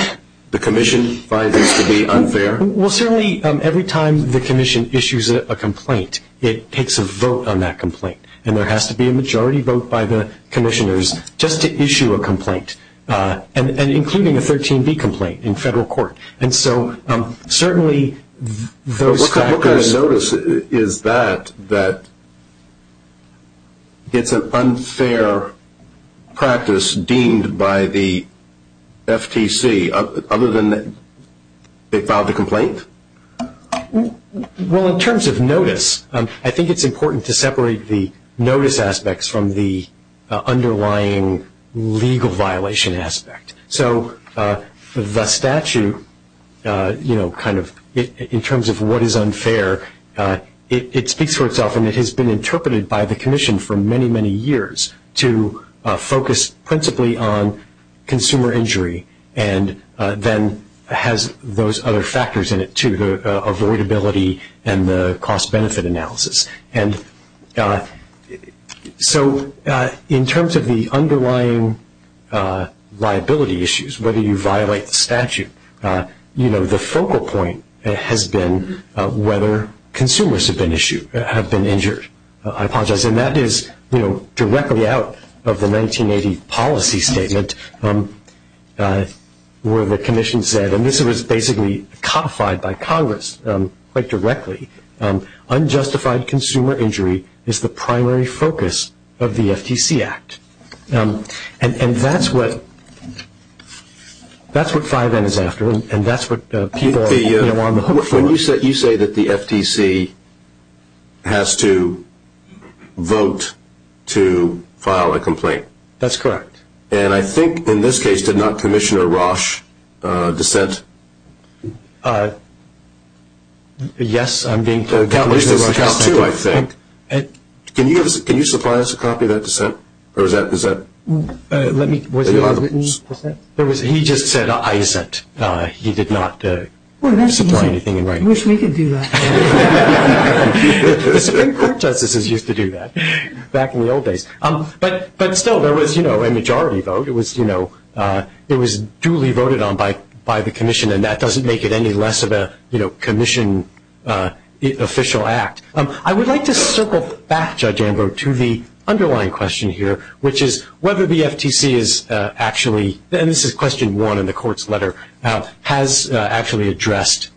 the commission finds this to be unfair? Well, certainly every time the commission issues a complaint, it takes a vote on that complaint, and there has to be a majority vote by the commissioners just to issue a complaint, including a 13B complaint in federal court. And so certainly those factors – What kind of notice is that, that it's an unfair practice deemed by the FTC other than they filed the complaint? Well, in terms of notice, I think it's important to separate the notice aspects from the underlying legal violation aspect. So the statute, you know, kind of in terms of what is unfair, it speaks for itself, and it has been interpreted by the commission for many, many years to focus principally on consumer injury and then has those other factors in it too, the avoidability and the cost-benefit analysis. And so in terms of the underlying liability issues, whether you violate the statute, you know, the focal point has been whether consumers have been injured. I apologize, and that is, you know, directly out of the 1980 policy statement where the commission said – and this was basically codified by Congress quite directly – unjustified consumer injury is the primary focus of the FTC Act. And that's what 5N is after, and that's what people are looking for. You say that the FTC has to vote to file a complaint. That's correct. And I think in this case, did not Commissioner Roche dissent? Yes, I'm being – Commissioner Roche, too, I think. Can you supply us a copy of that dissent? Or is that dissent? Let me – was it a written dissent? He just said, I dissent. He did not supply anything in writing. I wish we could do that. The Supreme Court just used to do that back in the old days. But still, there was, you know, a majority vote. It was, you know, it was duly voted on by the commission, and that doesn't make it any less of a, you know, commission official act. I would like to circle back, Judge Ambrose, to the underlying question here, which is whether the FTC is actually – and this is question one in the court's letter – has actually addressed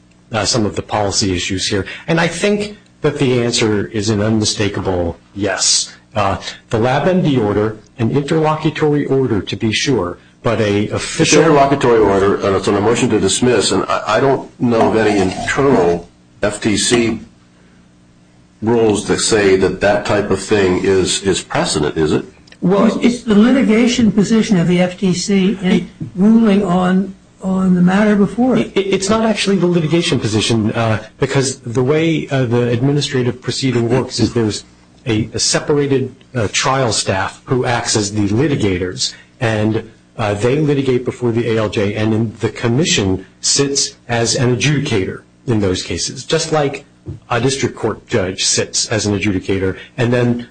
some of the policy issues here. And I think that the answer is an unmistakable yes. The LabMD order, an interlocutory order to be sure, but a – Interlocutory order, and it's on a motion to dismiss, and I don't know of any internal FTC rules that say that that type of thing is precedent, is it? Well, it's the litigation position of the FTC ruling on the matter before it. It's not actually the litigation position, because the way the administrative proceeding works is there's a separated trial staff who acts as the litigators, and they litigate before the ALJ, and the commission sits as an adjudicator in those cases, just like a district court judge sits as an adjudicator, and then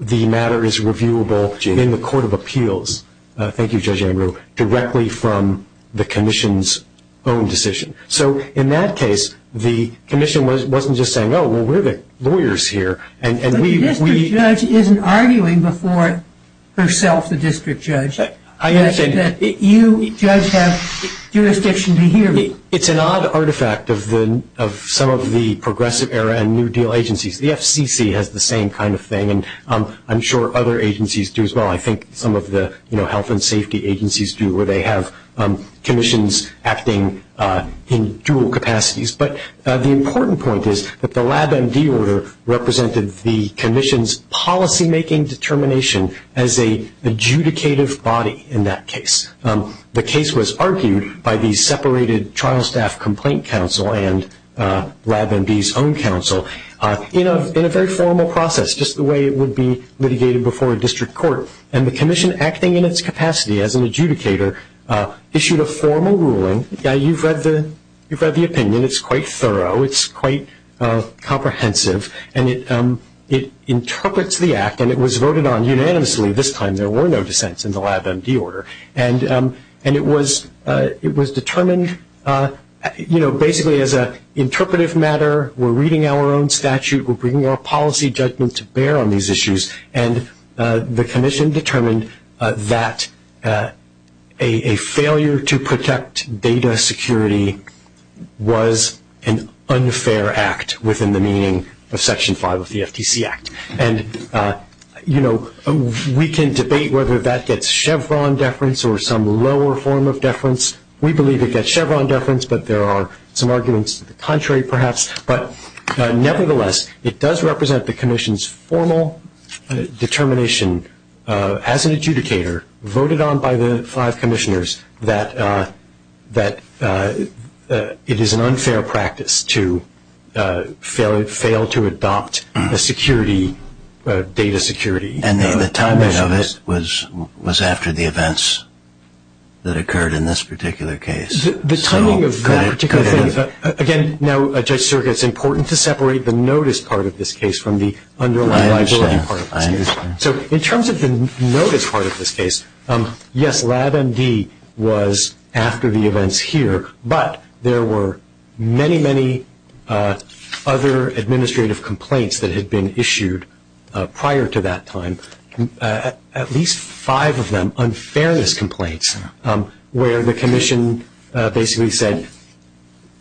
the matter is reviewable in the court of appeals – thank you, Judge Ambrose – directly from the commission's own decision. So in that case, the commission wasn't just saying, oh, well, we're the lawyers here, and we – But the district judge isn't arguing before herself the district judge. I am saying – You just have jurisdiction to hear me. It's an odd artifact of some of the progressive era and New Deal agencies. The FCC has the same kind of thing, and I'm sure other agencies do as well. I think some of the health and safety agencies do, where they have commissions acting in dual capacities. But the important point is that the LabMD order represented the commission's policymaking determination as an adjudicative body in that case. The case was argued by the separated trial staff complaint counsel and LabMD's own counsel in a very formal process, just the way it would be litigated before a district court. And the commission, acting in its capacity as an adjudicator, issued a formal ruling. You've read the opinion. It's quite thorough. It's quite comprehensive. And it interprets the act, and it was voted on unanimously. This time there were no dissents in the LabMD order. And it was determined, you know, basically as an interpretive matter. We're reading our own statute. We're bringing our policy judgment to bear on these issues. And the commission determined that a failure to protect data security was an unfair act within the meaning of Section 5 of the FTC Act. And, you know, we can debate whether that's Chevron deference or some lower form of deference. We believe it's Chevron deference, but there are some arguments contrary perhaps. But nevertheless, it does represent the commission's formal determination as an adjudicator, voted on by the five commissioners, that it is an unfair practice to fail to adopt a security, data security. And the timing of it was after the events that occurred in this particular case. The timing of that particular case. Again, now, Judge Sergis, it's important to separate the notice part of this case from the underlying authority part of this case. So in terms of the notice part of this case, yes, LabMD was after the events here, but there were many, many other administrative complaints that had been issued prior to that time, at least five of them unfairness complaints, where the commission basically said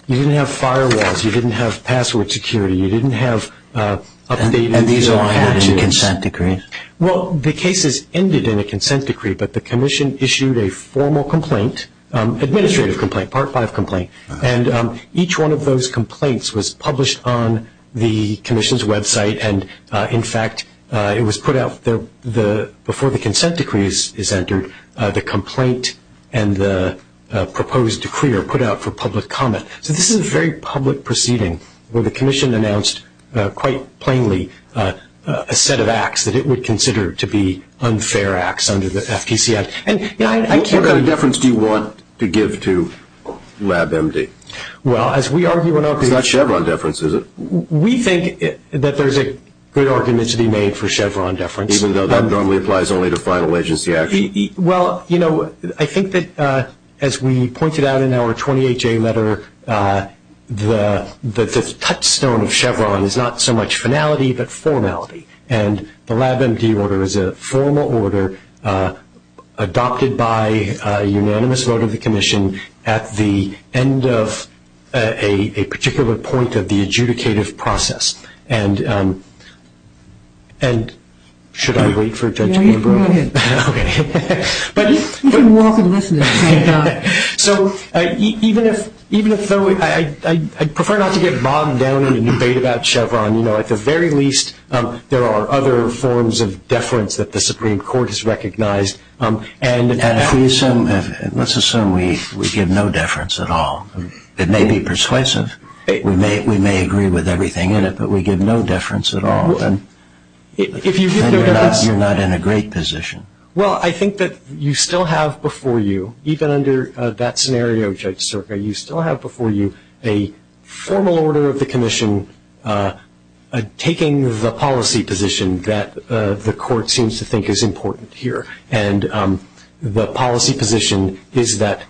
you didn't have firewalls, you didn't have password security, you didn't have updates. And these all happened in a consent decree? Well, the cases ended in a consent decree, but the commission issued a formal complaint, administrative complaint, Part 5 complaint. And each one of those complaints was published on the commission's website. And, in fact, it was put out there before the consent decree is entered, the complaint and the proposed decree are put out for public comment. So this is a very public proceeding where the commission announced quite plainly a set of acts that it would consider to be unfair acts under the FTC Act. What kind of deference do you want to give to LabMD? Well, as we argue and argue. It's not Chevron deference, is it? We think that there's a good argument to be made for Chevron deference. Even though that normally applies only to final agency acts? Well, you know, I think that, as we pointed out in our 20HA letter, the touchstone of Chevron is not so much finality but formality. And the LabMD order is a formal order adopted by a unanimous vote of the commission at the end of a particular point of the adjudicative process. And should I wait for Ted to go? No, you go ahead. Okay. You can walk and listen. So even though I prefer not to get bogged down in a debate about Chevron. You know, at the very least, there are other forms of deference that the Supreme Court has recognized. And let's assume we give no deference at all. It may be persuasive. We may agree with everything in it, but we give no deference at all. You're not in a great position. Well, I think that you still have before you, even under that scenario, Judge Sterka, you still have before you a formal order of the commission taking the policy position that the court seems to think is important here. And the policy position is that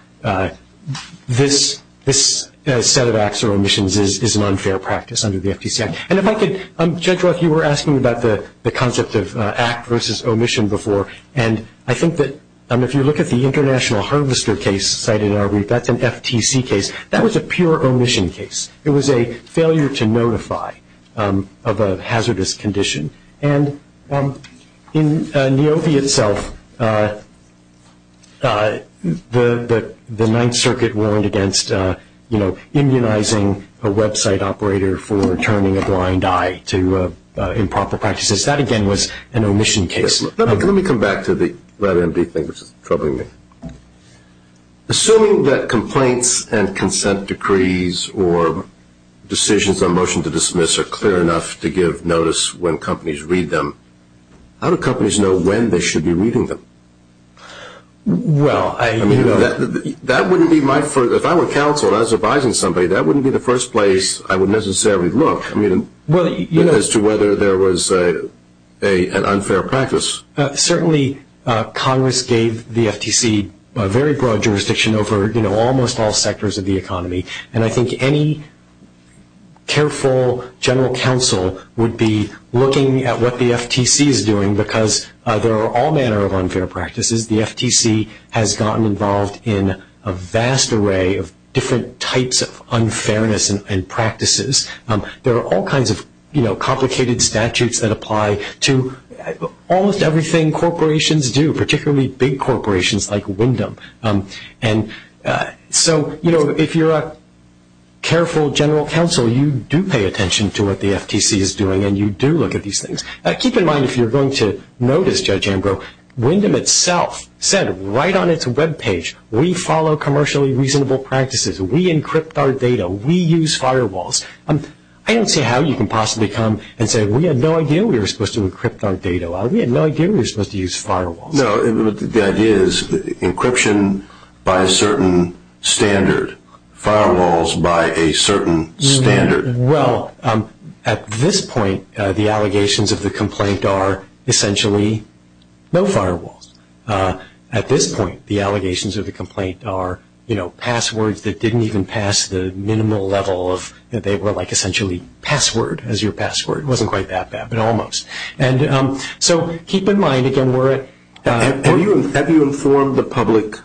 this set of acts or omissions is an unfair practice under the FTC Act. Judge Roth, you were asking about the concept of act versus omission before, and I think that if you look at the International Harvester case cited in our read, that's an FTC case. That was a pure omission case. It was a failure to notify of a hazardous condition. And in NAOBI itself, the Ninth Circuit warned against, you know, immunizing a Web site operator for returning a blind eye to improper practices. That, again, was an omission case. Let me come back to the NB thing that's troubling me. Assuming that complaints and consent decrees or decisions on motion to dismiss are clear enough to give notice when companies read them, how do companies know when they should be reading them? Well, I mean, that wouldn't be my first – if I were counsel as advising somebody, that wouldn't be the first place I would necessarily look as to whether there was an unfair practice. Certainly, Congress gave the FTC a very broad jurisdiction over, you know, almost all sectors of the economy. And I think any careful general counsel would be looking at what the FTC is doing, because there are all manner of unfair practices. The FTC has gotten involved in a vast array of different types of unfairness and practices. There are all kinds of, you know, complicated statutes that apply to almost everything corporations do, particularly big corporations like Wyndham. And so, you know, if you're a careful general counsel, you do pay attention to what the FTC is doing, and you do look at these things. Keep in mind if you're going to notice, Judge Ambrose, Wyndham itself said right on its Web page, we follow commercially reasonable practices. We encrypt our data. We use firewalls. I don't see how you can possibly come and say we had no idea we were supposed to encrypt our data. We had no idea we were supposed to use firewalls. No, the idea is encryption by a certain standard, firewalls by a certain standard. Well, at this point, the allegations of the complaint are essentially no firewalls. At this point, the allegations of the complaint are, you know, passwords that didn't even pass the minimal level that they were like essentially password as your password. It wasn't quite that bad, but almost. And so keep in mind, again, we're at- Have you informed the public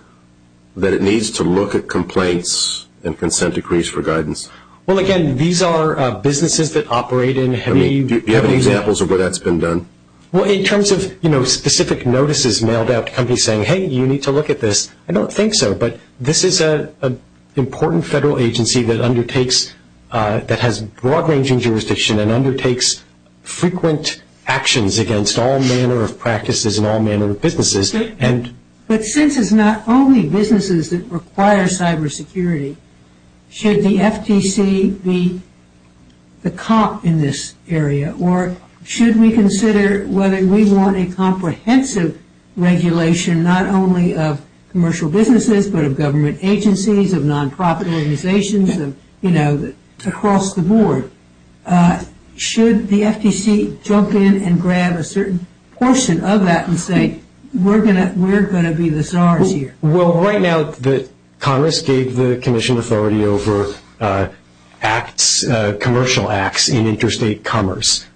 that it needs to look at complaints and consent decrees for guidance? Well, again, these are businesses that operate in- Do you have examples of where that's been done? Well, in terms of, you know, specific notices mailed out to companies saying, hey, you need to look at this, I don't think so. But this is an important federal agency that undertakes, that has broad-ranging jurisdiction and undertakes frequent actions against all manner of practices and all manner of businesses. But this is not only businesses that require cybersecurity. Should the FTC be the cop in this area, or should we consider whether we want a comprehensive regulation not only of commercial businesses, but of government agencies, of nonprofit organizations, you know, across the board? Should the FTC jump in and grab a certain portion of that and say, we're going to be the czars here? Well, right now, Congress gave the Commission authority over acts, commercial acts in interstate commerce.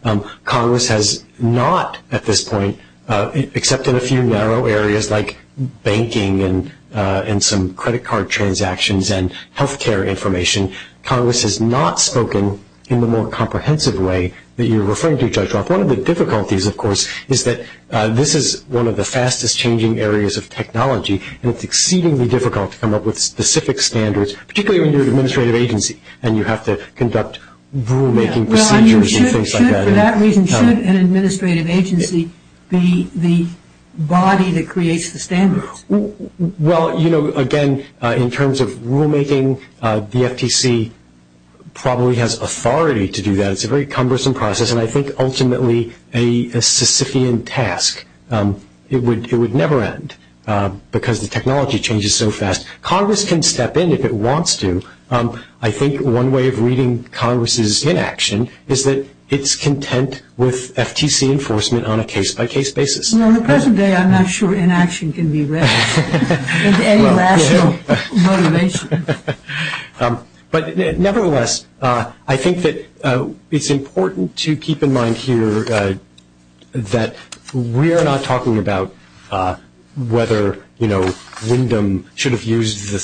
Congress has not at this point, except in a few narrow areas like banking and some credit card transactions and health care information, Congress has not spoken in the more comprehensive way that you're referring to. One of the difficulties, of course, is that this is one of the fastest-changing areas of technology, and it's exceedingly difficult to come up with specific standards, particularly when you're an administrative agency and you have to conduct rulemaking procedures and things like that. Should an administrative agency be the body that creates the standards? Well, you know, again, in terms of rulemaking, the FTC probably has authority to do that. It's a very cumbersome process, and I think ultimately a Sisyphean task. It would never end because the technology changes so fast. Congress can step in if it wants to. I think one way of reading Congress's inaction is that it's content with FTC enforcement on a case-by-case basis. Well, in the present day, I'm not sure inaction can be read as any rational motivation. But nevertheless, I think that it's important to keep in mind here that we're not talking about whether, you know, the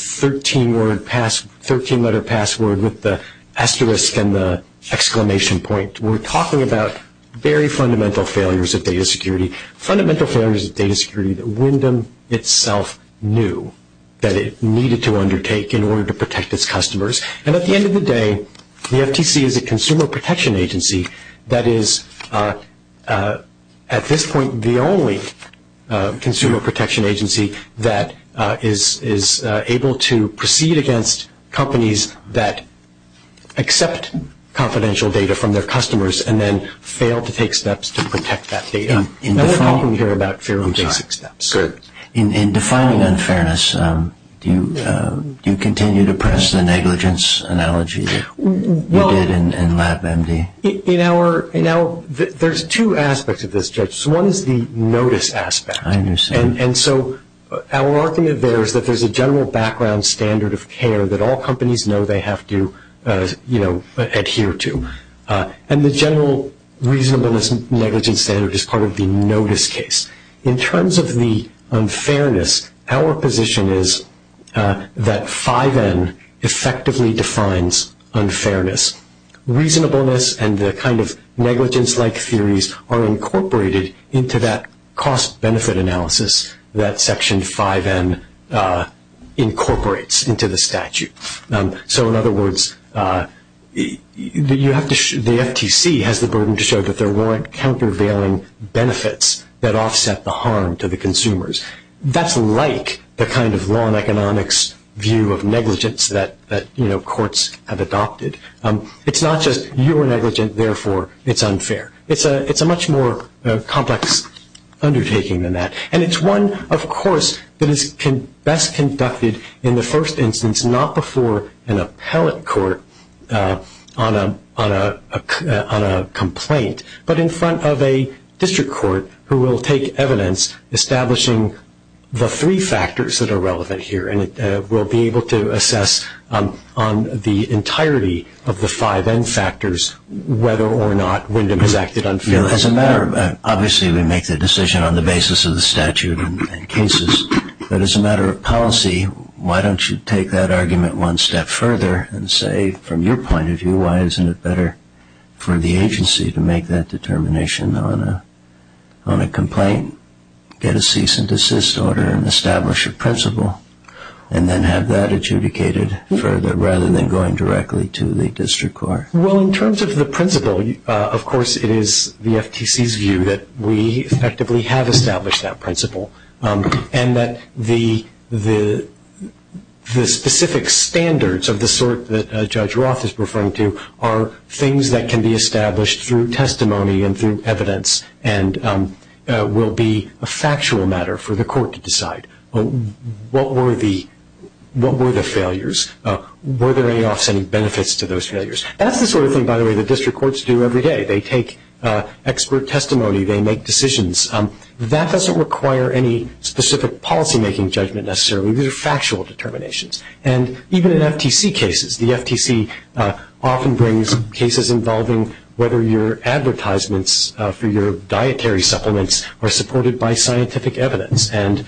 13-letter password with the asterisk and the exclamation point. We're talking about very fundamental failures of data security, fundamental failures of data security that Wyndham itself knew that it needed to undertake in order to protect its customers. And at the end of the day, the FTC is a consumer protection agency that is, at this point, the only consumer protection agency that is able to proceed against companies that accept confidential data from their customers and then fail to take steps to protect that data. That's what we hear about failure to take steps. In defining unfairness, do you continue to press the negligence analogy you did in LabMD? Now, there's two aspects of this, Judge. One is the notice aspect. I understand. And so our argument there is that there's a general background standard of care that all companies know they have to, you know, adhere to. And the general reasonableness and negligence standard is part of the notice case. In terms of the unfairness, our position is that 5N effectively defines unfairness. Reasonableness and the kind of negligence-like theories are incorporated into that cost-benefit analysis that Section 5N incorporates into the statute. So, in other words, the FTC has the burden to show that there weren't countervailing benefits that offset the harm to the consumers. That's like the kind of law and economics view of negligence that, you know, courts have adopted. It's not just you were negligent, therefore it's unfair. It's a much more complex undertaking than that. And it's one, of course, that is best conducted in the first instance, not before an appellate court on a complaint, but in front of a district court who will take evidence establishing the three factors that are relevant here. And it will be able to assess on the entirety of the 5N factors whether or not Wyndham has acted unfairly. As a matter of fact, obviously we make the decision on the basis of the statute and cases. But as a matter of policy, why don't you take that argument one step further and say, from your point of view, why isn't it better for the agency to make that determination on a complaint, get a cease and desist order, and establish a principle, and then have that adjudicated further rather than going directly to the district court? Well, in terms of the principle, of course, it is the FTC's view that we effectively have established that principle and that the specific standards of the sort that Judge Roth is referring to are things that can be established through testimony and through evidence and will be a factual matter for the court to decide. What were the failures? Were there any offsetting benefits to those failures? That's the sort of thing, by the way, that district courts do every day. They take expert testimony. They make decisions. That doesn't require any specific policymaking judgment necessarily. These are factual determinations. And even in FTC cases, the FTC often brings cases involving whether your advertisements for your dietary supplements are supported by scientific evidence. And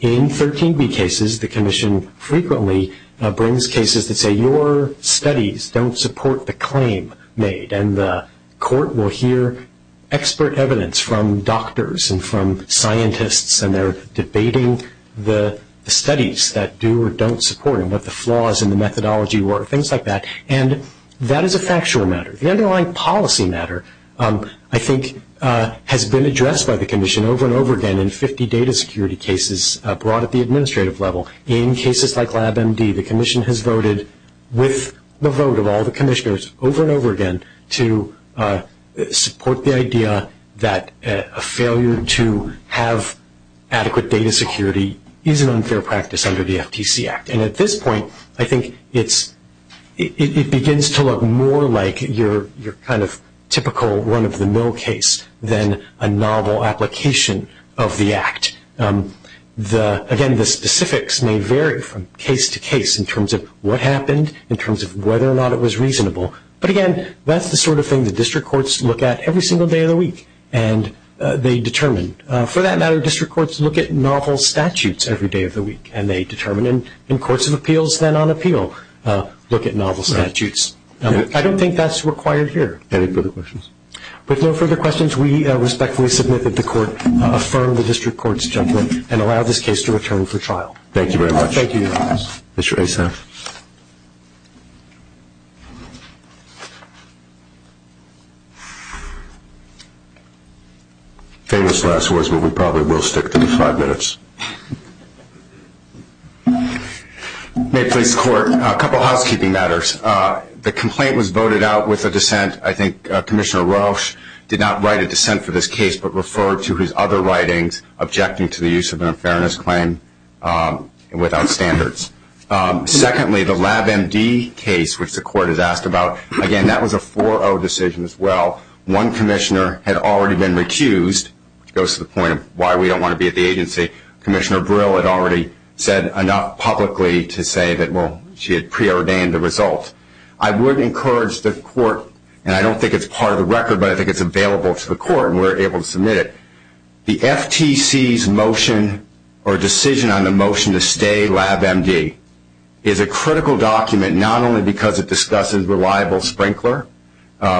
in 13B cases, the commission frequently brings cases that say your studies don't support the claim made, and the court will hear expert evidence from doctors and from scientists, and they're debating the studies that do or don't support them, what the flaws in the methodology were, things like that. And that is a factual matter. The underlying policy matter, I think, has been addressed by the commission over and over again in 50 data security cases brought at the administrative level. In cases like LabMD, the commission has voted, with the vote of all the commissioners over and over again, to support the idea that a failure to have adequate data security is an unfair practice under the FTC Act. And at this point, I think it begins to look more like your kind of typical run-of-the-mill case than a novel application of the Act. Again, the specifics may vary from case to case in terms of what happened, in terms of whether or not it was reasonable. But, again, that's the sort of thing the district courts look at every single day of the week, and they determine. For that matter, district courts look at novel statutes every day of the week, and they determine, and courts of appeals, then on appeal, look at novel statutes. I don't think that's required here. Any further questions? With no further questions, we respectfully submit that the court affirm the district court's judgment and allow this case to return for trial. Thank you very much. Thank you, Your Honor. Mr. Asaf. Okay, this last one is where we probably will stick for five minutes. May it please the court? A couple of housekeeping matters. First, the complaint was voted out with a dissent. I think Commissioner Walsh did not write a dissent for this case, but referred to his other writings objecting to the use of an unfairness claim without standards. Secondly, the LabMD case, which the court has asked about, again, that was a 4-0 decision as well. One commissioner had already been recused. It goes to the point of why we don't want to be at the agency. Commissioner Brill had already said enough publicly to say that, well, she had preordained the results. I would encourage the court, and I don't think it's part of the record, but I think it's available to the court and we're able to submit it. The FTC's motion or decision on the motion to stay LabMD is a critical document, not only because it discusses reliable sprinkler,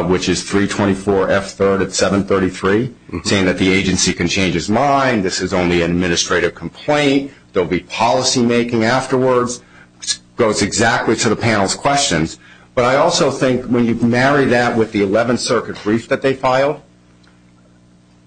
which is 324F3 at 733, saying that the agency can change its mind, this is only an administrative complaint, there will be policymaking afterwards. It goes exactly to the panel's questions. But I also think when you marry that with the 11th Circuit brief that they filed,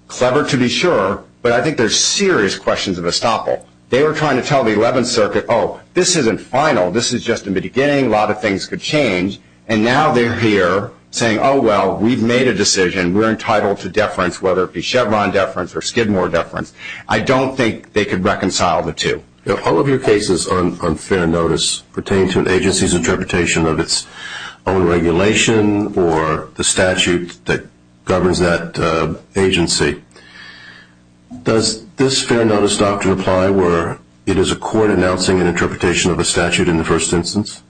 clever to be sure, but I think there's serious questions of estoppel. They were trying to tell the 11th Circuit, oh, this isn't final, this is just in the beginning, a lot of things could change, and now they're here saying, oh, well, we've made a decision, and we're entitled to deference, whether it be Chevron deference or Skidmore deference. I don't think they could reconcile the two. If all of your cases on fair notice pertain to the agency's interpretation of its own regulation or the statute that governs that agency, does this fair notice doctrine apply where it is a court announcing an interpretation of a statute in the first instance?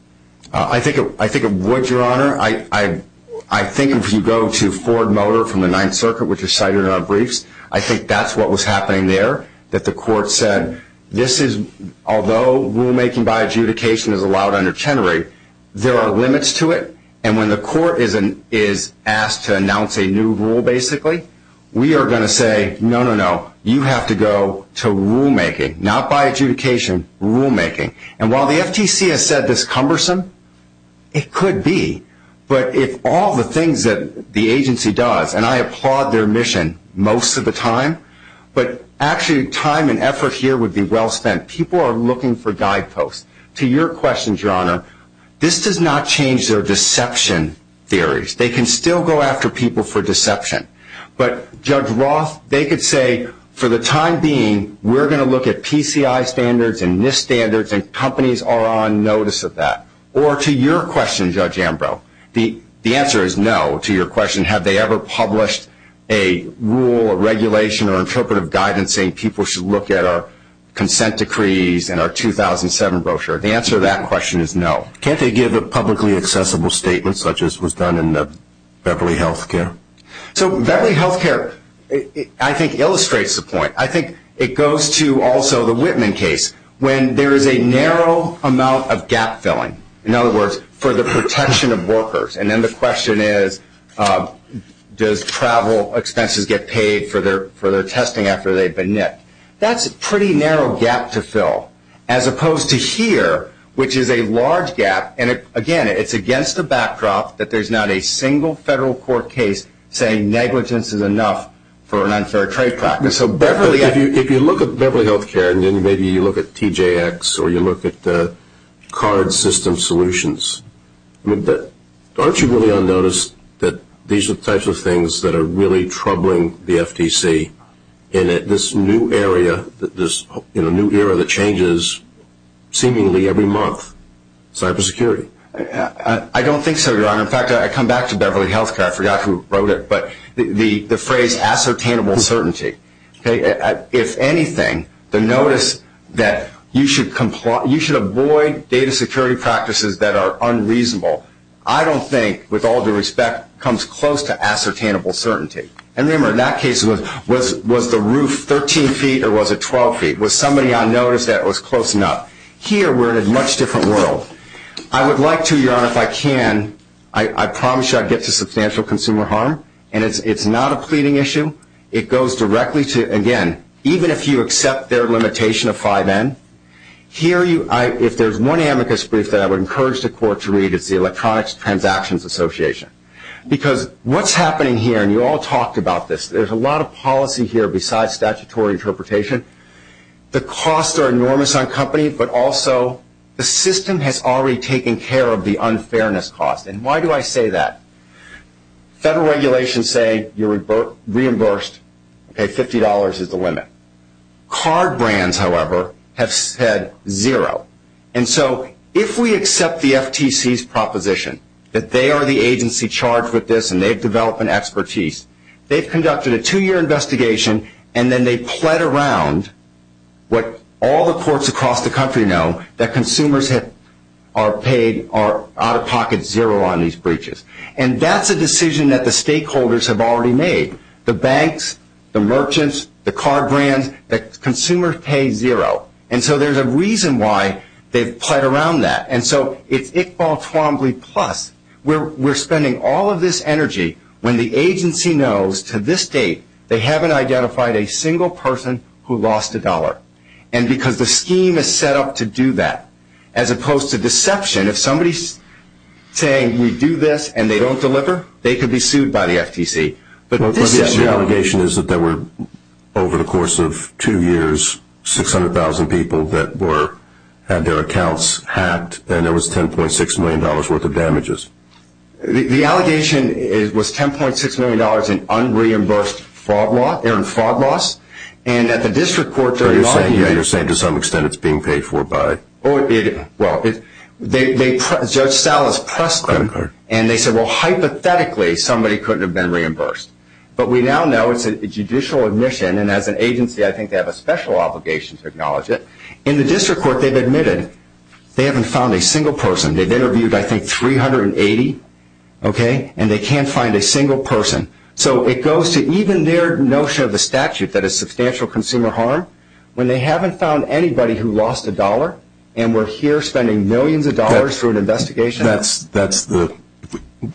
I think it would, Your Honor. I think if you go to Ford Motor from the 9th Circuit, which is cited on briefs, I think that's what was happening there, that the court said, although rulemaking by adjudication is allowed under Chenery, there are limits to it, and when the court is asked to announce a new rule, basically, we are going to say, no, no, no, you have to go to rulemaking, not by adjudication, rulemaking. And while the FTC has said this is cumbersome, it could be. But if all the things that the agency does, and I applaud their mission most of the time, but actually time and effort here would be well spent. People are looking for guideposts. To your question, Your Honor, this does not change their deception theories. They can still go after people for deception. But Judge Roth, they could say, for the time being, we're going to look at PCI standards and NIST standards, and companies are on notice of that. Or to your question, Judge Ambrose, the answer is no to your question, have they ever published a rule or regulation or interpretive guidance saying people should look at our consent decrees and our 2007 brochure. The answer to that question is no. Can't they give a publicly accessible statement such as was done in the Beverly Health Care? So Beverly Health Care, I think, illustrates the point. I think it goes to also the Whitman case. When there is a narrow amount of gap filling, in other words, for the protection of workers, and then the question is, does travel expenses get paid for their testing after they've been nipped? That's a pretty narrow gap to fill, as opposed to here, which is a large gap. And, again, it's against the backdrop that there's not a single federal court case saying negligence is enough for an unfair trade practice. So if you look at Beverly Health Care and then maybe you look at TJX or you look at the card system solutions, aren't you really on notice that these are the types of things that are really troubling the FTC in this new era that changes seemingly every month, cybersecurity? I don't think so, Your Honor. In fact, I come back to Beverly Health Care. I forgot who wrote it, but the phrase, ascertainable certainty. If anything, the notice that you should avoid data security practices that are unreasonable, I don't think, with all due respect, comes close to ascertainable certainty. And remember, in that case, was the roof 13 feet or was it 12 feet? Was somebody on notice that it was close enough? Here, we're in a much different world. I would like to, Your Honor, if I can, I promise you I'd get to substantial consumer harm, and it's not a pleading issue. It goes directly to, again, even if you accept their limitation of 5N, here if there's one amicus brief that I would encourage the court to read, it's the Electronics Transactions Association, because what's happening here, and you all talked about this, there's a lot of policy here besides statutory interpretation. The costs are enormous on company, but also the system has already taken care of the unfairness cost. And why do I say that? Federal regulations say you're reimbursed, $50 is the limit. Card brands, however, have said zero. And so if we accept the FTC's proposition that they are the agency charged with this and they've developed an expertise, they've conducted a two-year investigation and then they've plied around what all the courts across the country know, that consumers are paid out-of-pocket zero on these breaches. And that's a decision that the stakeholders have already made. The banks, the merchants, the card brands, that consumers pay zero. And so there's a reason why they've plied around that. And so it's Iqbal Twombly Plus. We're spending all of this energy when the agency knows to this date they haven't identified a single person who lost a dollar. And because the scheme is set up to do that, as opposed to deception, if somebody's saying we do this and they don't deliver, they could be sued by the FTC. The allegation is that there were, over the course of two years, 600,000 people that had their accounts hacked and there was $10.6 million worth of damages. The allegation was $10.6 million in unreimbursed fraud loss. And at the district court they're denying that. You're saying to some extent it's being paid for by? Well, Judge Salas pressed them and they said, well, hypothetically, somebody couldn't have been reimbursed. But we now know it's a judicial admission, and as an agency I think they have a special obligation to acknowledge it. In the district court they've admitted they haven't found a single person. They've interviewed, I think, 380, and they can't find a single person. So it goes to even their notion of the statute, that it's substantial consumer harm, when they haven't found anybody who lost a dollar and we're here spending millions of dollars for an investigation. That's the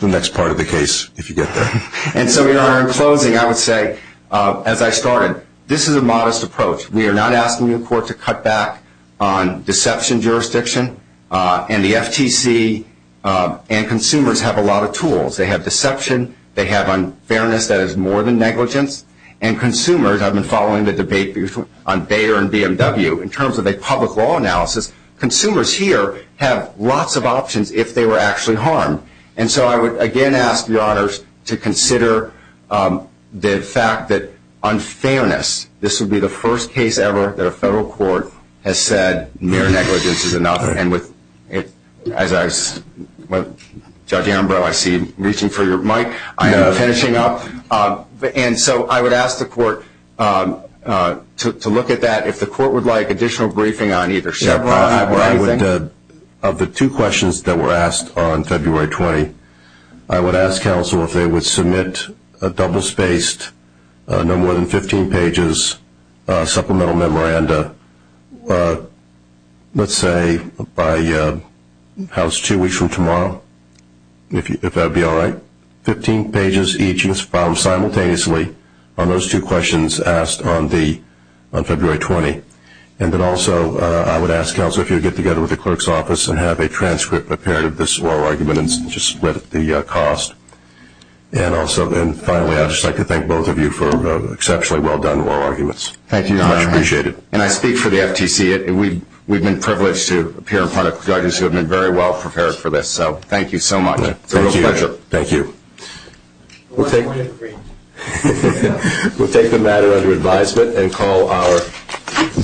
next part of the case, if you get there. And so, Your Honor, in closing I would say, as I started, this is a modest approach. We are not asking the court to cut back on deception jurisdiction, and the FTC and consumers have a lot of tools. They have deception. They have unfairness that is more than negligence. And consumers, I've been following the debate on Bayer and BMW, in terms of a public law analysis, consumers here have lots of options if they were actually harmed. And so I would again ask Your Honors to consider the fact that unfairness, this would be the first case ever that a federal court has said mere negligence is enough. And, Judge Ambrose, I see you reaching for your mic. I know. Finishing up. And so I would ask the court to look at that. If the court would like additional briefing on either side. Of the two questions that were asked on February 20, I would ask counsel if they would submit a double-spaced, no more than 15 pages supplemental memoranda, let's say by house two weeks from tomorrow, if that would be all right, 15 pages each, filed simultaneously on those two questions asked on February 20. And then also I would ask counsel if you would get together with the clerk's office and have a transcript apparent of this oral argument and split the cost. And also then finally I would just like to thank both of you for exceptionally well-done oral arguments. Thank you, Your Honor. I appreciate it. And I speak for the FTC. We've been privileged to appear in front of judges who have been very well prepared for this. So thank you so much. Thank you, Your Honor. Thank you. We'll take the matter under advisement